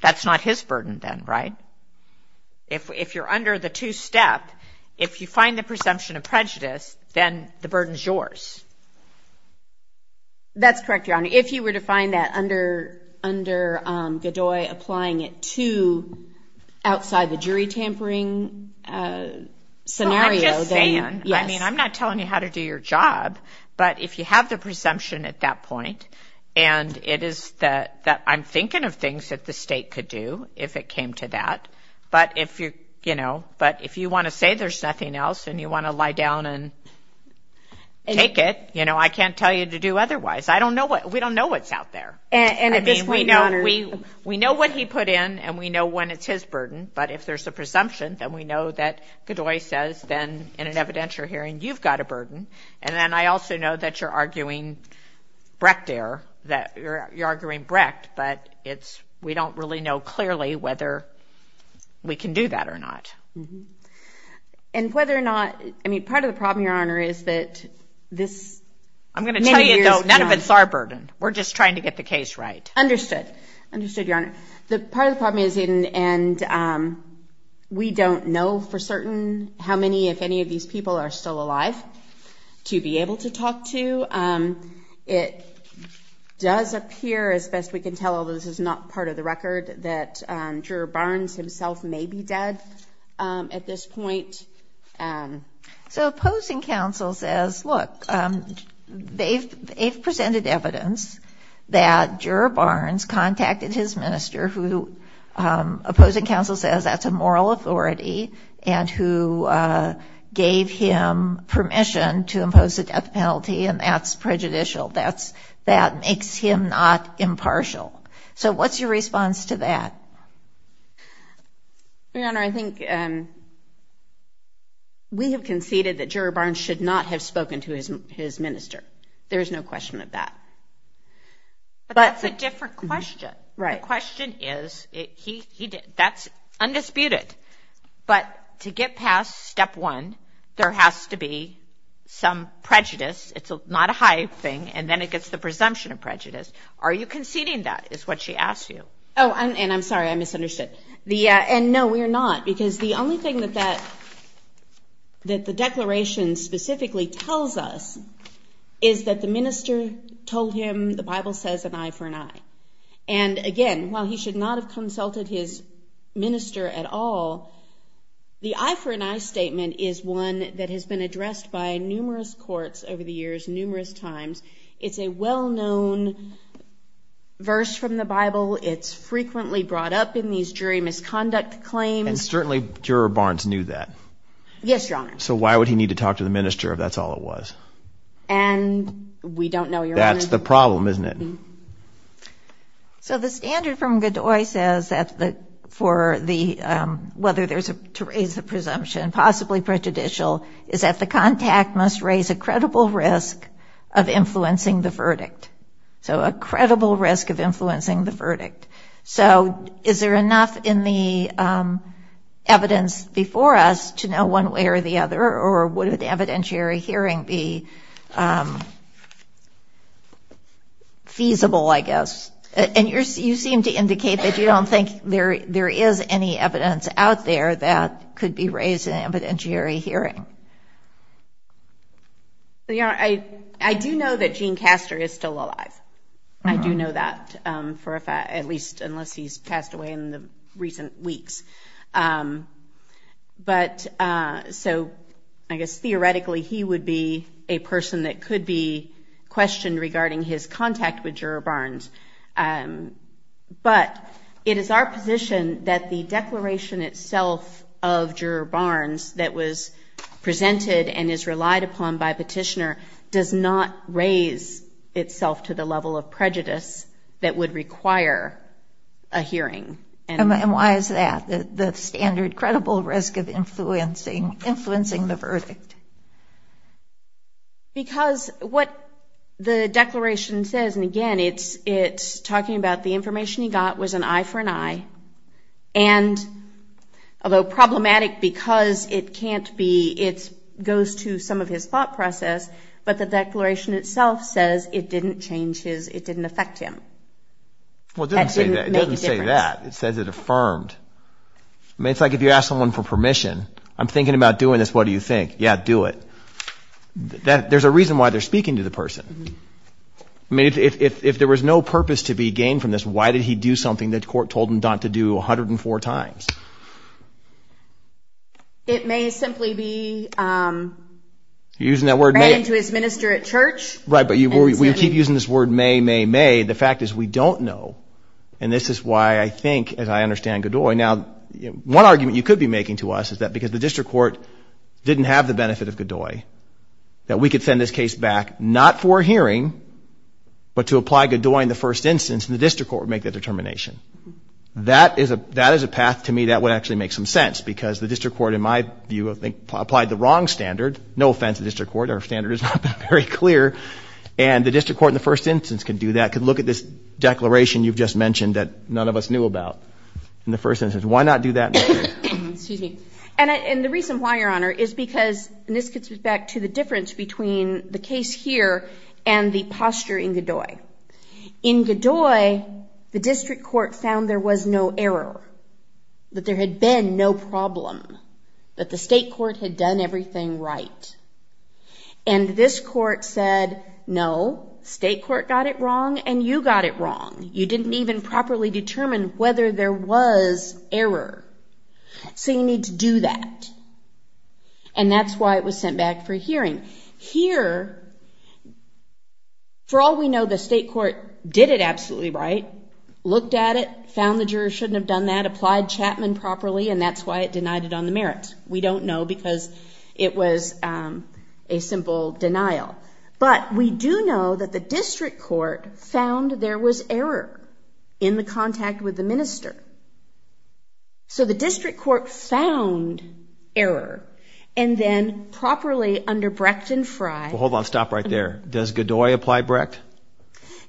That's not his burden then, right? If you're under the two-step, if you find the presumption of prejudice, then the burden is yours. That's correct, Your Honor. If you were to find that under Godoy applying it to outside the jury tampering scenario. I'm not telling you how to do your job, but if you have the presumption at that point, and it is that I'm thinking of things that the state could do if it came to that, but if you want to say there's nothing else and you want to lie down and take it, I can't tell you to do otherwise. We don't know what's out there. We know what he put in and we know when it's his burden, but if there's a presumption, then we know that Godoy says then in an evidentiary hearing, you've got a burden. And then I also know that you're arguing Brecht there, that you're arguing Brecht, but we don't really know clearly whether we can do that or not. And whether or not, I mean, part of the problem, Your Honor, is that this... I'm going to tell you, though, none of it's our burden. We're just trying to get the case right. Understood, Your Honor. Part of the problem is we don't know for certain how many, if any, of these people are still alive to be able to talk to. It does appear, as best we can tell, although this is not part of the record, that Juror Barnes himself may be dead at this point. So opposing counsel says, look, they've presented evidence that Juror Barnes contacted his minister, who opposing counsel says that's a moral authority and who gave him permission to impose a death penalty, and that's prejudicial. That makes him not impartial. So what's your response to that? Your Honor, I think we have conceded that Juror Barnes should not have spoken to his minister. There is no question of that. But that's a different question. The question is, that's undisputed. But to get past step one, there has to be some prejudice. It's not a high thing, and then it gets the presumption of prejudice. Are you conceding that is what she asked you? Oh, and I'm sorry, I misunderstood. And no, we're not, because the only thing that the Declaration specifically tells us is that the minister told him the Bible says an eye for an eye. And again, while he should not have consulted his minister at all, the eye for an eye statement is one that has been addressed by numerous courts over the years, numerous times. It's a well-known verse from the Bible. It's frequently brought up in these jury misconduct claims. And certainly Juror Barnes knew that. Yes, Your Honor. So why would he need to talk to the minister if that's all it was? And we don't know, Your Honor. That's the problem, isn't it? So the standard from Godoy says, whether there's a presumption, possibly prejudicial, is that the contact must raise a credible risk of influencing the verdict. So a credible risk of influencing the verdict. So is there enough in the evidence before us to know one way or the other, or would an evidentiary hearing be feasible, I guess? And you seem to indicate that you don't think there is any evidence out there that could be raised in an evidentiary hearing. Your Honor, I do know that Gene Castor is still alive. I do know that, at least unless he's passed away in recent weeks. But so I guess theoretically he would be a person that could be questioned regarding his contact with Juror Barnes. But it is our position that the declaration itself of Juror Barnes that was presented and is relied upon by Petitioner does not raise itself to the level of prejudice that would require a hearing. And why is that, the standard credible risk of influencing the verdict? Because what the declaration says, and again it's talking about the information he got was an eye for an eye, and although problematic because it goes to some of his thought process, but the declaration itself says it didn't affect him. Well, it doesn't say that. It says it affirmed. It's like if you ask someone for permission, I'm thinking about doing this, what do you think? Yeah, do it. There's a reason why they're speaking to the person. I mean, if there was no purpose to be gained from this, why did he do something that the court told him not to do 104 times? It may simply be threatened to his minister at church. Right, but you keep using this word may, may, may. The fact is we don't know, and this is why I think and I understand Godoy. Now, one argument you could be making to us is that because the district court didn't have the benefit of Godoy, that we could send this case back not for a hearing, but to apply Godoy in the first instance and the district court would make the determination. That is a path to me that would actually make some sense because the district court, in my view, applied the wrong standard, no offense to the district court, our standard is not very clear, and the district court in the first instance could do that, could look at this declaration you've just mentioned that none of us knew about in the first instance. Why not do that? And the reason why, Your Honor, is because this gets us back to the difference between the case here and the posture in Godoy. In Godoy, the district court found there was no error, that there had been no problem, that the state courts had done everything right. And this court said, no, state court got it wrong and you got it wrong. You didn't even properly determine whether there was error. So you need to do that. And that's why it was sent back for a hearing. Here, for all we know, the state court did it absolutely right, looked at it, found the jurors shouldn't have done that, applied Chapman properly, and that's why it denied it on the merits. We don't know because it was a simple denial. But we do know that the district court found there was error in the contact with the minister. So the district court found error, and then properly under Brecht and Frey Hold on, stop right there. Does Godoy apply Brecht?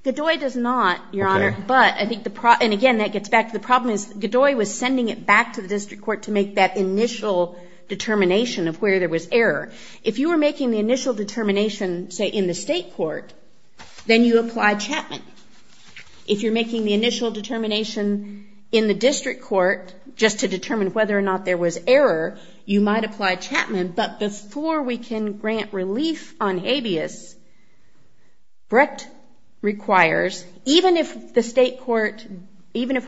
Godoy does not, Your Honor. And again, that gets back to the problem is Godoy was sending it back to the district court to make that initial determination of where there was error. If you were making the initial determination, say, in the state court, then you apply Chapman. If you're making the initial determination in the district court just to determine whether or not there was error, you might apply Chapman, but before we can grant relief on habeas, Brecht requires, even if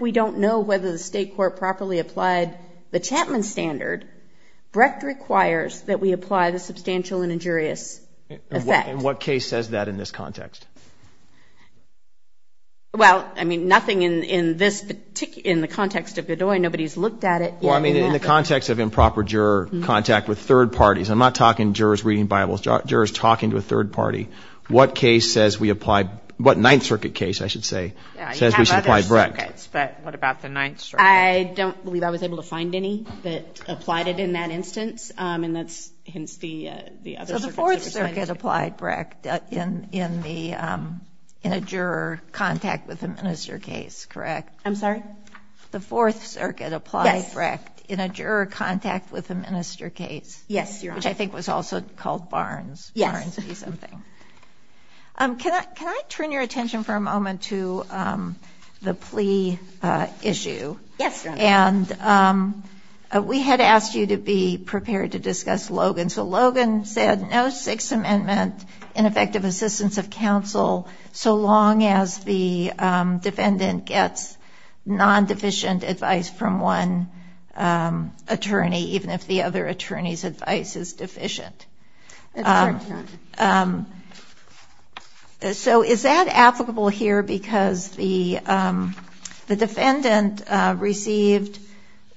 we don't know whether the state court properly applied the Chapman standard, Brecht requires that we apply the substantial and injurious effect. And what case says that in this context? Well, I mean, nothing in the context of Godoy. Nobody's looked at it. Well, I mean, in the context of improper juror contact with third parties. I'm not talking jurors reading Bibles, jurors talking to a third party. What case says we apply, what Ninth Circuit case, I should say, says we should apply Brecht? Yeah, you have other circuits, but what about the Ninth Circuit? I don't believe I was able to find any that applied it in that instance, and that's the other. Well, the Fourth Circuit applied Brecht in a juror contact with a minister case, correct? I'm sorry? The Fourth Circuit applied Brecht in a juror contact with a minister case. Yes, which I think was also called Barnes. Can I turn your attention for a moment to the plea issue? Yes. And we had asked you to be prepared to discuss Logan. So Logan said no Sixth Amendment in effective assistance of counsel so long as the defendant gets non-deficient advice from one attorney, even if the other attorney's advice is deficient. So is that applicable here because the defendant received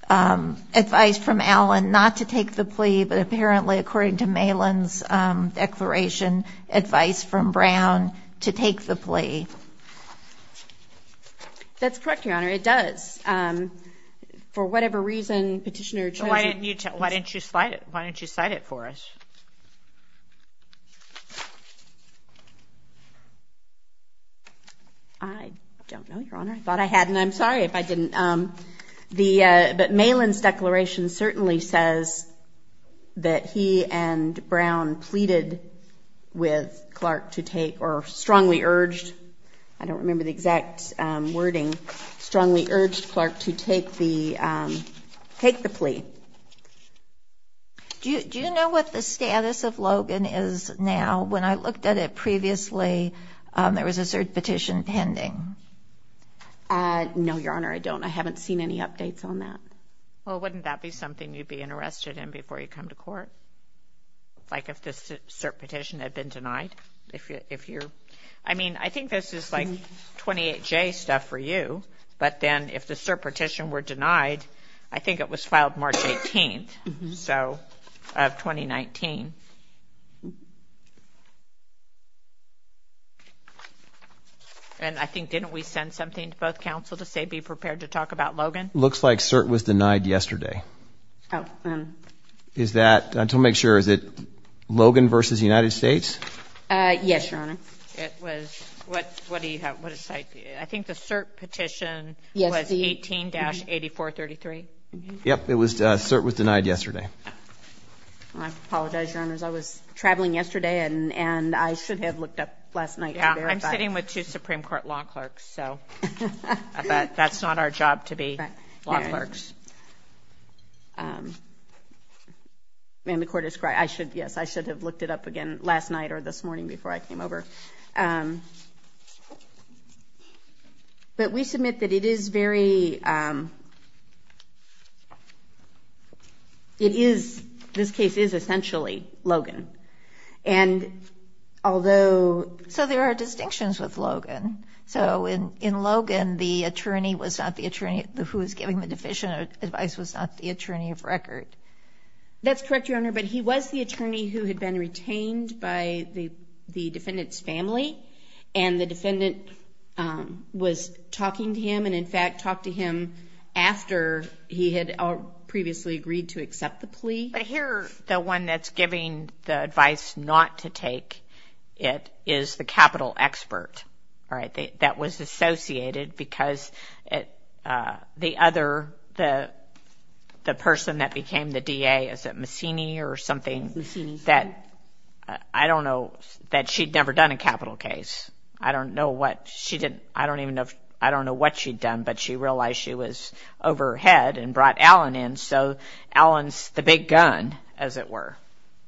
advice from Allen not to take the plea, but apparently, according to Malin's declaration, advice from Brown to take the plea? That's correct, Your Honor, it does. For whatever reason, Petitioner chose – Why didn't you cite it for us? I don't know, Your Honor. I thought I had, and I'm sorry if I didn't. But Malin's declaration certainly says that he and Brown pleaded with Clark to take – or strongly urged – urged Clark to take the plea. Do you know what the status of Logan is now? When I looked at it previously, there was a cert petition pending. No, Your Honor, I don't. I haven't seen any updates on that. Well, wouldn't that be something you'd be interested in before you come to court? Like if the cert petition had been denied? I mean, I think this is like 28-J stuff for you, but then if the cert petition were denied, I think it was filed March 18th of 2019. And I think, didn't we send something to both counsel to say be prepared to talk about Logan? Looks like cert was denied yesterday. Is that – I just want to make sure – is it Logan v. United States? Yes, Your Honor. It was – what do you have? I think the cert petition was 18-8433. Yes, it was – cert was denied yesterday. I apologize, Your Honor. I was traveling yesterday, and I should have looked up last night. I'm sitting with two Supreme Court law clerks, so that's not our job to be law clerks. And the court described – I should – yes, I should have looked it up again last night or this morning before I came over. But we submit that it is very – it is – this case is essentially Logan. And although – so there are distinctions with Logan. So in Logan, the attorney was not the attorney who was giving the deficient advice was not the attorney of record. That's correct, Your Honor. But he was the attorney who had been retained by the defendant's family, and the defendant was talking to him and, in fact, talked to him after he had previously agreed to accept the plea. But here, the one that's giving the advice not to take it is the capital expert. All right, that was associated because the other – the person that became the DA, is it Mussini or something, that – I don't know – that she'd never done a capital case. I don't know what she did – I don't even know – I don't know what she'd done, but she realized she was overhead and brought Allen in. So Allen's the big gun, as it were.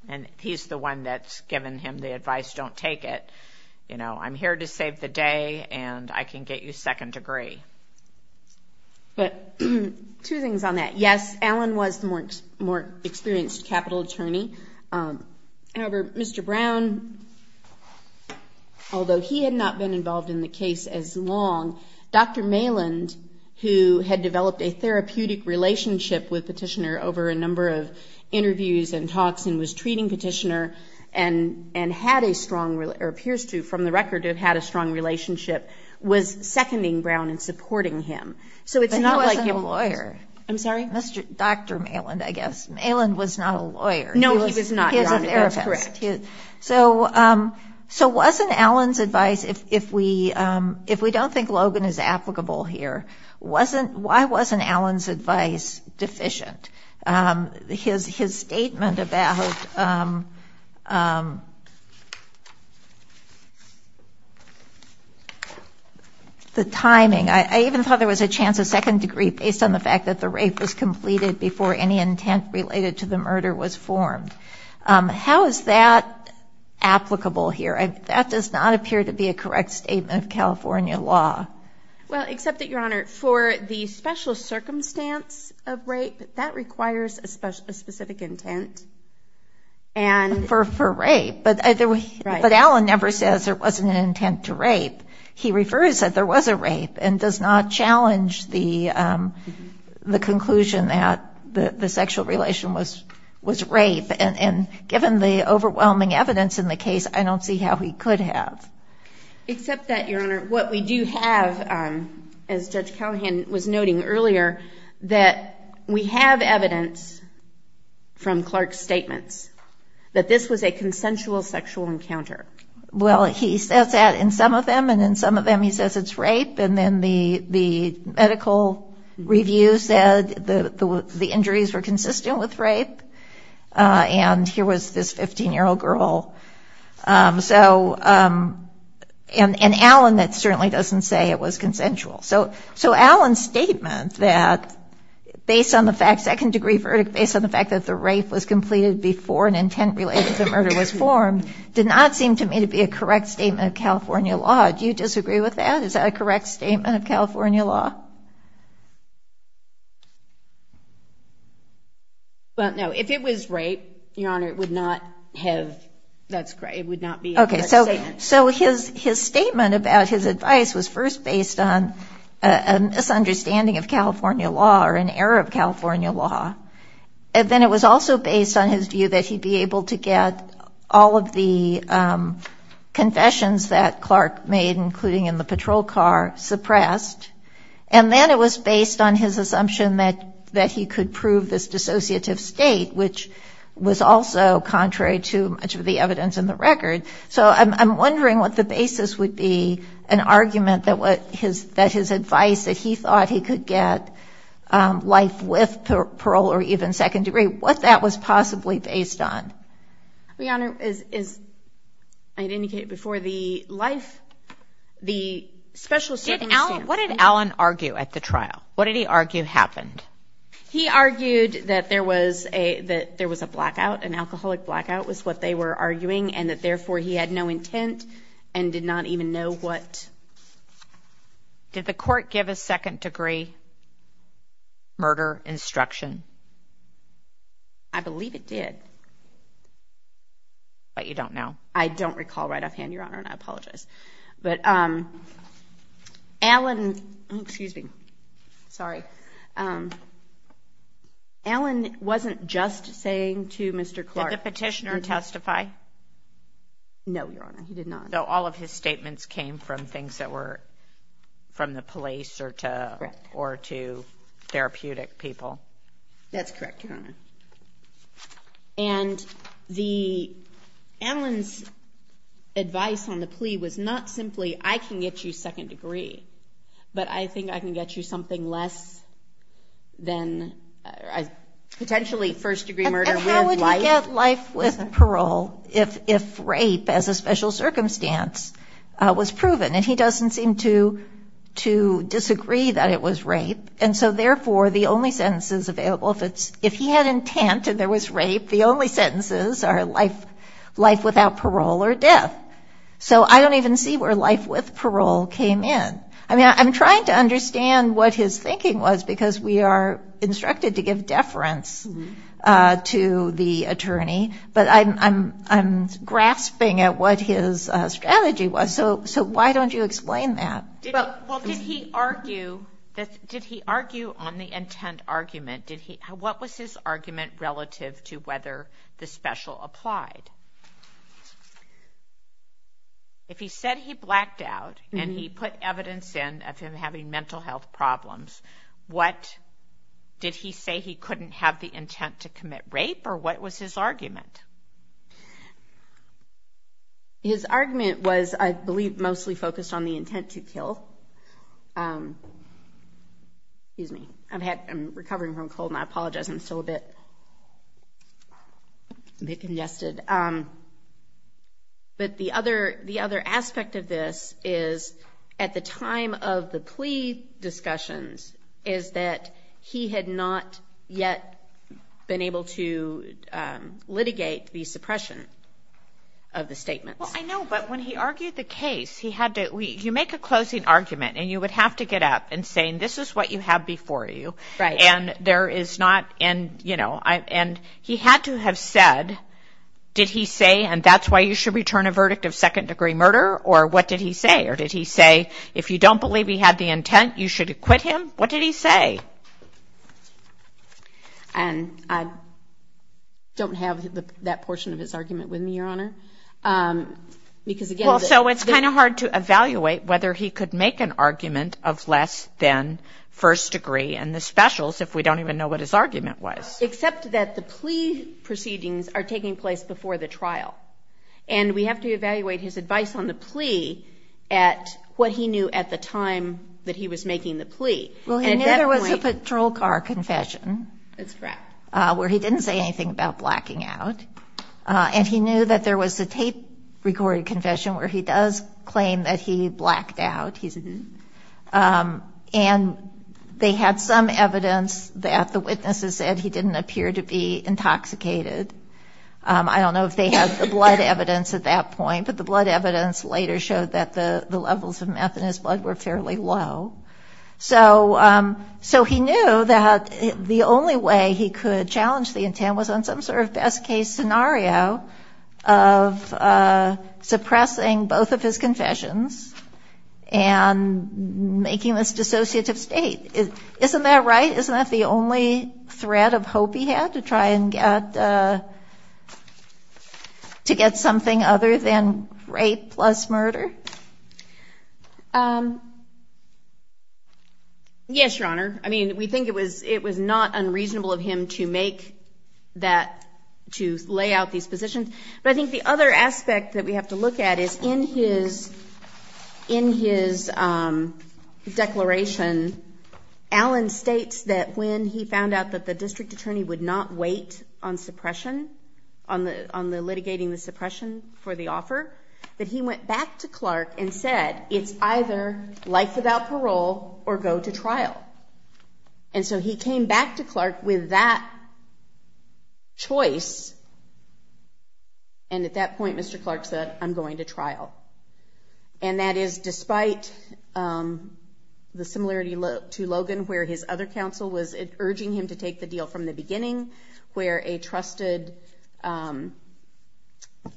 And he's the one that's given him the advice, don't take it. You know, I'm here to save the day, and I can get you second degree. But two things on that. Yes, Allen was the more experienced capital attorney. However, Mr. Brown, although he had not been involved in the case as long, Dr. Maland, who had developed a therapeutic relationship with Petitioner over a number of interviews and talks and was treating Petitioner and had a strong – or appears to, from the record, have had a strong relationship, was seconding Brown and supporting him. So it's not like the lawyer. I'm sorry? Dr. Maland, I guess. Maland was not a lawyer. No, he was not. So wasn't Allen's advice – if we don't think Logan is applicable here, why wasn't Allen's advice deficient? His statement about the timing – I even thought there was a chance of second degree based on the fact that the rape was completed before any intent related to the murder was formed. How is that applicable here? That does not appear to be a correct statement of California law. Well, except that, Your Honor, for the special circumstance of rape, that requires a specific intent. For rape. But Allen never says there wasn't an intent to rape. He refers that there was a rape and does not challenge the conclusion that the sexual relation was rape. And given the overwhelming evidence in the case, I don't see how he could have. Except that, Your Honor, what we do have, as Judge Callahan was noting earlier, that we have evidence from Clark's statement that this was a consensual sexual encounter. Well, he says that in some of them, and in some of them he says it's rape. And then the medical review said the injuries were consistent with rape. And here was this 15-year-old girl. And Allen certainly doesn't say it was consensual. So Allen's statement that, based on the fact – second degree verdict – based on the fact that the rape was completed before an intent related to the murder was formed did not seem to me to be a correct statement of California law. Do you disagree with that? Is that a correct statement of California law? Well, no. If it was rape, Your Honor, it would not have – it would not be a correct statement. Okay. So his statement about his advice was first based on a misunderstanding of California law or an error of California law. And then it was also based on his view that he'd be able to get all of the confessions that Clark made, including in the patrol car, suppressed. And then it was based on his assumption that he could prove this dissociative state, which was also contrary to much of the evidence in the record. So I'm wondering what the basis would be, an argument that his advice, that he thought he could get life with parole or even second degree, what that was possibly based on. Your Honor, as I indicated before, the life – the special circumstances – Did Allen – what did Allen argue at the trial? What did he argue happened? He argued that there was a – that there was a blackout, an alcoholic blackout was what they were arguing, and that therefore he had no intent and did not even know what – Did the court give a second degree murder instruction? I believe it did. But you don't know. I don't recall right offhand, Your Honor, and I apologize. But Allen – excuse me. Sorry. Allen wasn't just saying to Mr. Clark – Did the petitioner testify? No, Your Honor. He did not. So all of his statements came from things that were from the police or to therapeutic people. That's correct, Your Honor. And the – Allen's advice on the plea was not simply, I can get you second degree, but I think I can get you something less than – He had life with parole if rape as a special circumstance was proven, and he doesn't seem to disagree that it was rape. And so therefore the only sentences available – if he had intent and there was rape, the only sentences are life without parole or death. So I don't even see where life with parole came in. I mean, I'm trying to understand what his thinking was, because we are instructed to give deference to the attorney, but I'm grasping at what his strategy was. So why don't you explain that? Well, did he argue on the intent argument? What was his argument relative to whether the special applied? If he said he blacked out and he put evidence in of him having mental health problems, what – did he say he couldn't have the intent to commit rape, or what was his argument? His argument was, I believe, mostly focused on the intent to kill. Excuse me. I'm recovering from a cold, and I apologize. I'm still a bit congested. But the other aspect of this is, at the time of the plea discussions, is that he had not yet been able to litigate the suppression of the statement. Well, I know, but when he argued the case, he had to – you make a closing argument, and you would have to get up and say, this is what you had before you. Right. And there is not – and he had to have said, did he say, and that's why you should return a verdict of second-degree murder, or what did he say? Or did he say, if you don't believe he had the intent, you should acquit him? What did he say? And I don't have that portion of his argument with me, Your Honor. Well, so it's kind of hard to evaluate whether he could make an argument of less than first degree in the specials if we don't even know what his argument was. Except that the plea proceedings are taking place before the trial, and we have to evaluate his advice on the plea at what he knew at the time that he was making the plea. Well, he knew there was a patrol car confession. That's correct. Where he didn't say anything about blacking out. And he knew that there was a tape-recorded confession where he does claim that he blacked out. And they have some evidence that the witnesses said he didn't appear to be intoxicated. I don't know if they have the blood evidence at that point, but the blood evidence later showed that the levels of meth in his blood were fairly low. So he knew that the only way he could challenge the intent was on some sort of best-case scenario of suppressing both of his confessions and making this dissociative state. Isn't that right? Isn't that the only thread of hope he had to try and get something other than rape plus murder? Yes, Your Honor. I mean, we think it was not unreasonable of him to make that, to lay out these positions. But I think the other aspect that we have to look at is in his declaration, Allen states that when he found out that the district attorney would not wait on suppression, on the litigating the suppression for the offer, that he went back to Clark and said it's either life without parole or go to trial. And so he came back to Clark with that choice. And at that point, Mr. Clark said, I'm going to trial. And that is despite the similarity to Logan where his other counsel was urging him to take the deal from the beginning, where a trusted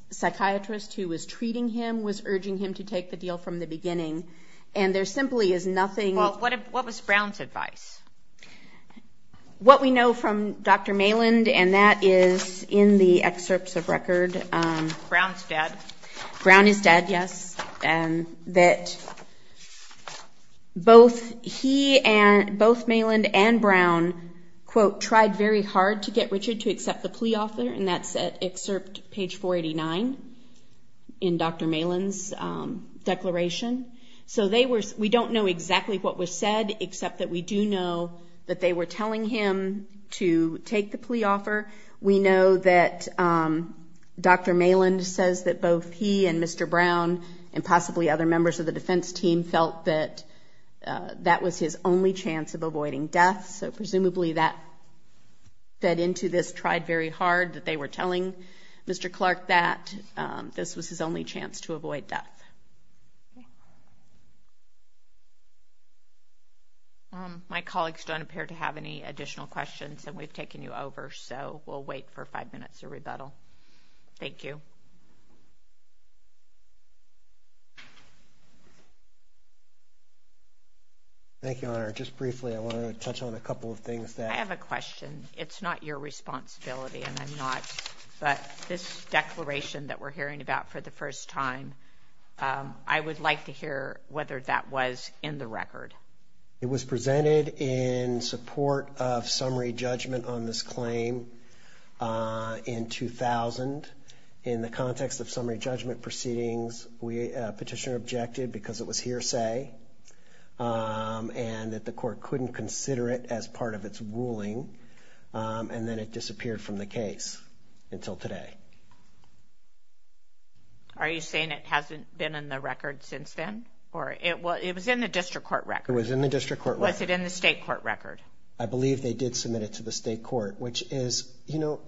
psychiatrist who was treating him was urging him to take the deal from the beginning. And there simply is nothing. Well, what was Brown's advice? What we know from Dr. Maland, and that is in the excerpts of record. Brown's dad. Brown's dad, yes. And that both he and, both Maland and Brown, quote, tried very hard to get Richard to accept the plea offer. And that's at excerpt page 489 in Dr. Maland's declaration. So they were, we don't know exactly what was said, except that we do know that they were telling him to take the plea offer. We know that Dr. Maland says that both he and Mr. Brown and possibly other members of the defense team felt that that was his only chance of avoiding death. So presumably that fed into this tried very hard that they were telling Mr. Clark that this was his only chance to avoid death. My colleagues don't appear to have any additional questions, and we've taken you over. So we'll wait for five minutes to rebuttal. Thank you. Thank you, Honor. Just briefly, I wanted to touch on a couple of things. I have a question. It's not your responsibility, and I'm not, but this declaration that we're hearing about for the first time, I would like to hear whether that was in the record. It was presented in support of summary judgment on this claim in 2000. In the context of summary judgment proceedings, Petitioner objected because it was hearsay and that the court couldn't consider it as part of its ruling. And then it disappeared from the case until today. Are you saying it hasn't been in the record since then? It was in the district court record. It was in the district court record. Was it in the state court record? I believe they did submit it to the state court, which is, you know,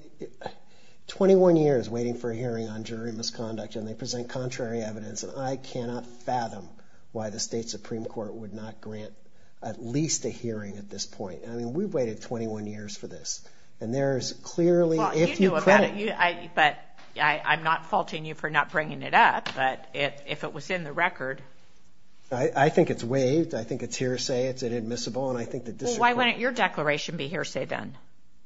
21 years waiting for a hearing on jury misconduct, and they present contrary evidence, and I cannot fathom why the state Supreme Court would not grant at least a hearing at this point. I mean, we've waited 21 years for this, and there is clearly, if you could. But I'm not faulting you for not bringing it up, but if it was in the record. I think it's waived. I think it's hearsay. It's inadmissible, and I think the district court. Well, why wouldn't your declaration be hearsay then?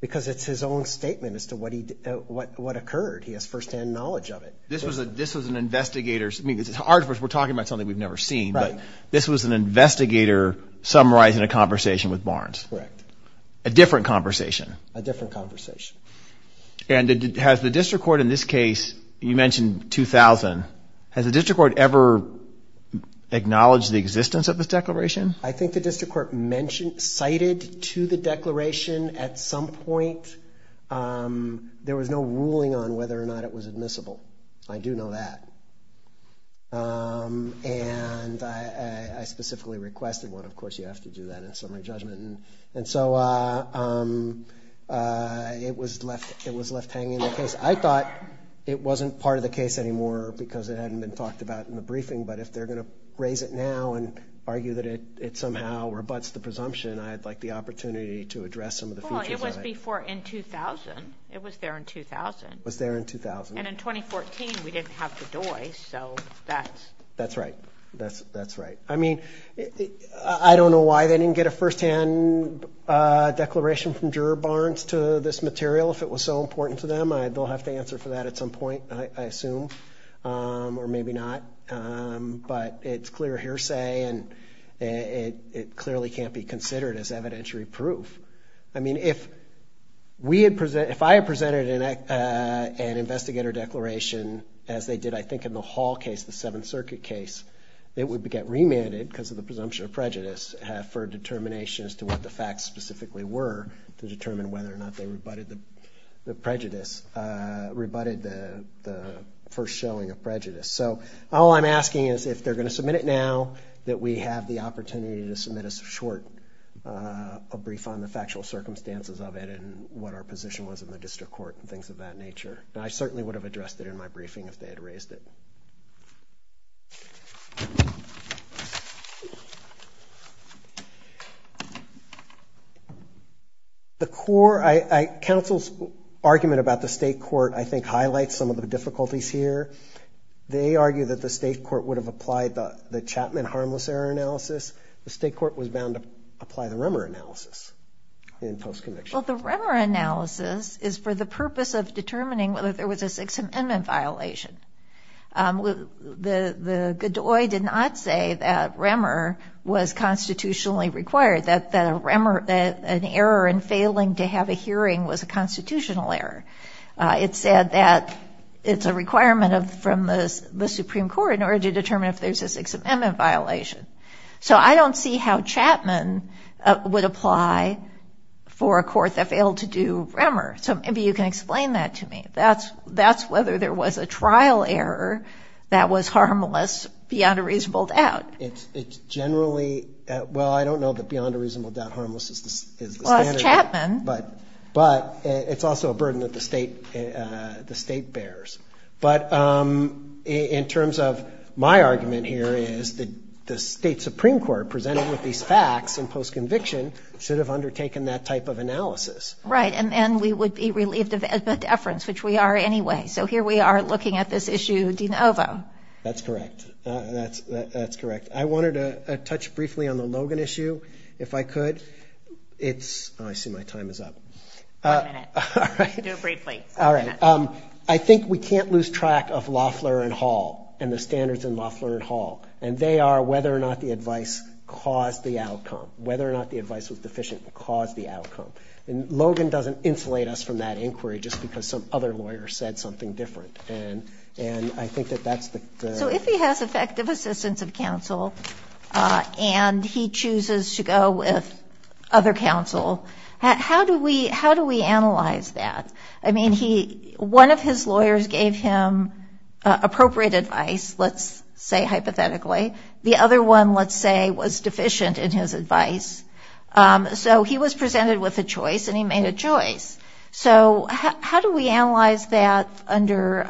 Because it's his own statement as to what occurred. He has firsthand knowledge of it. This was an investigator's, I mean, we're talking about something we've never seen, but this was an investigator summarizing a conversation with Barnes. Correct. A different conversation. A different conversation. And has the district court in this case, you mentioned 2000, has the district court ever acknowledged the existence of this declaration? I think the district court cited to the declaration at some point there was no ruling on whether or not it was admissible. I do know that. And I specifically requested one. Of course, you have to do that in summary judgment. And so it was left hanging in the case. I thought it wasn't part of the case anymore because it hadn't been talked about in the briefing, but if they're going to raise it now and argue that it somehow rebuts the presumption, I'd like the opportunity to address some of the future comments. Well, it was before in 2000. It was there in 2000. It was there in 2000. And in 2014, we didn't have the DOI, so that's. That's right. That's right. I mean, I don't know why they didn't get a firsthand declaration from Juror Barnes to this material if it was so important to them. I will have to answer for that at some point, I assume, or maybe not. But it's clear hearsay and it clearly can't be considered as evidentiary proof. I mean, if I had presented an investigator declaration as they did, I think, in the Hall case, the Seventh Circuit case, it would get remanded because of the presumption of prejudice for determination as to what the facts specifically were to determine whether or not they rebutted the prejudice, rebutted the first showing of prejudice. So all I'm asking is if they're going to submit it now, that we have the opportunity to submit a short brief on the factual circumstances of it and what our position was in the district court and things of that nature. And I certainly would have addressed it in my briefing if they had raised it. The court, counsel's argument about the state court, I think, highlights some of the difficulties here. They argue that the state court would have applied the Chapman harmless error analysis. The state court was bound to apply the Remmer analysis in the post-conviction. Well, the Remmer analysis is for the purpose of determining whether there was a sixth amendment violation. The Godoy did not say that Remmer was constitutionally required, that an error in failing to have a hearing was a constitutional error. It said that it's a requirement from the Supreme Court in order to determine if there's a sixth amendment violation. So I don't see how Chapman would apply for a court that failed to do Remmer. So maybe you can explain that to me. That's whether there was a trial error that was harmless beyond a reasonable doubt. It's generally, well, I don't know that beyond a reasonable doubt harmless is the standard. Well, it's Chapman. But it's also a burden that the state bears. But in terms of my argument here is that the state Supreme Court presented with these facts in post-conviction should have undertaken that type of analysis. Right, and we would be relieved of that deference, which we are anyway. So here we are looking at this issue de novo. That's correct. That's correct. I wanted to touch briefly on the Logan issue, if I could. I see my time is up. One minute. Do it briefly. All right. I think we can't lose track of Loeffler and Hall and the standards in Loeffler and Hall. And they are whether or not the advice caused the outcome. Whether or not the advice was deficient caused the outcome. And Logan doesn't insulate us from that inquiry just because some other lawyer said something different. And I think that that's the- So if he has effective assistance of counsel and he chooses to go with other counsel, how do we analyze that? I mean, one of his lawyers gave him appropriate advice, let's say hypothetically. The other one, let's say, was deficient in his advice. So he was presented with a choice and he made a choice. So how do we analyze that under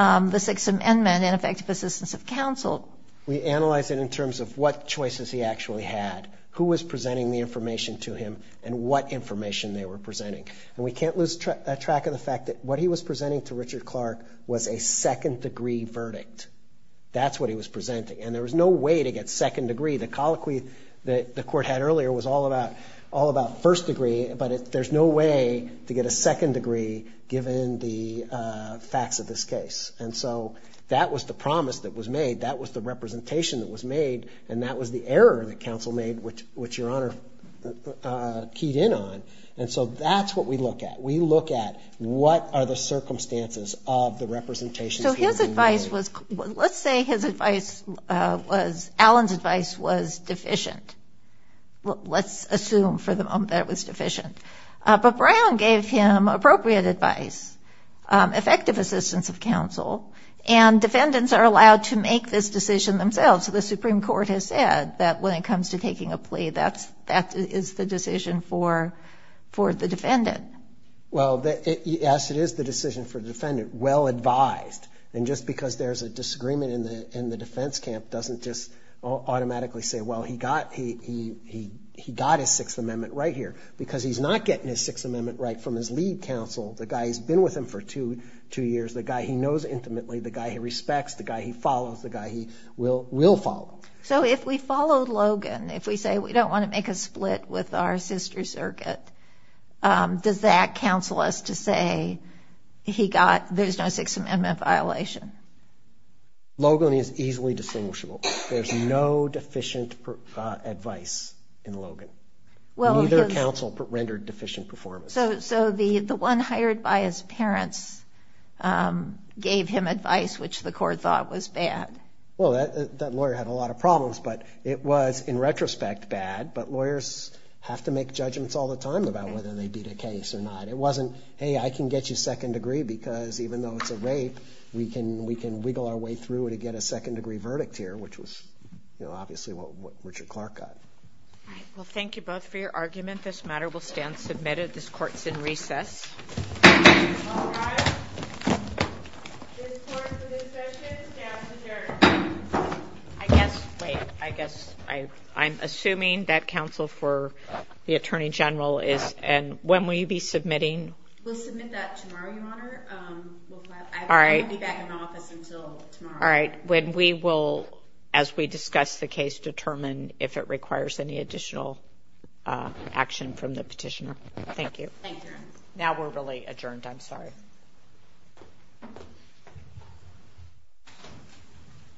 the Sixth Amendment and effective assistance of counsel? We analyze it in terms of what choices he actually had, who was presenting the information to him, and what information they were presenting. And we can't lose track of the fact that what he was presenting to Richard Clark was a second degree verdict. That's what he was presenting. And there was no way to get second degree. The colloquy that the court had earlier was all about first degree, but there's no way to get a second degree given the facts of this case. And so that was the promise that was made. That was the representation that was made. And that was the error that counsel made, which Your Honor keyed in on. And so that's what we look at. We look at what are the circumstances of the representation here. So his advice was, let's say his advice was, Allen's advice was deficient. Let's assume for the moment that it was deficient. But Brown gave him appropriate advice, effective assistance of counsel, and defendants are allowed to make this decision themselves. The Supreme Court has said that when it comes to taking a plea, that is the decision for the defendant. Well, yes, it is the decision for the defendant, well advised. And just because there's a disagreement in the defense camp doesn't just automatically say, well, he got his Sixth Amendment right here, because he's not getting his Sixth Amendment right from his lead counsel, the guy who's been with him for two years, the guy he knows intimately, the guy he respects, the guy he follows, the guy he will follow. So if we follow Logan, if we say we don't want to make a split with our sister circuit, does that counsel us to say there's no Sixth Amendment violation? Logan is easily distinguishable. There's no deficient advice in Logan. Neither counsel rendered deficient performance. So the one hired by his parents gave him advice which the court thought was bad. Well, that lawyer had a lot of problems, but it was, in retrospect, bad. But lawyers have to make judgments all the time about whether they beat a case or not. It wasn't, hey, I can get you second degree because even though it's a rape, we can wiggle our way through it and get a second degree verdict here, which was obviously what Richard Clark got. Well, thank you both for your argument. This matter will stand submitted. This court is in recess. All rise. This court for this session stands adjourned. I guess I'm assuming that counsel for the Attorney General is and when will you be submitting? We'll submit that tomorrow, Your Honor. I won't be back in the office until tomorrow. All right. When we will, as we discuss the case, determine if it requires any additional action from the petitioner. Thank you. Now we're really adjourned. I'm sorry.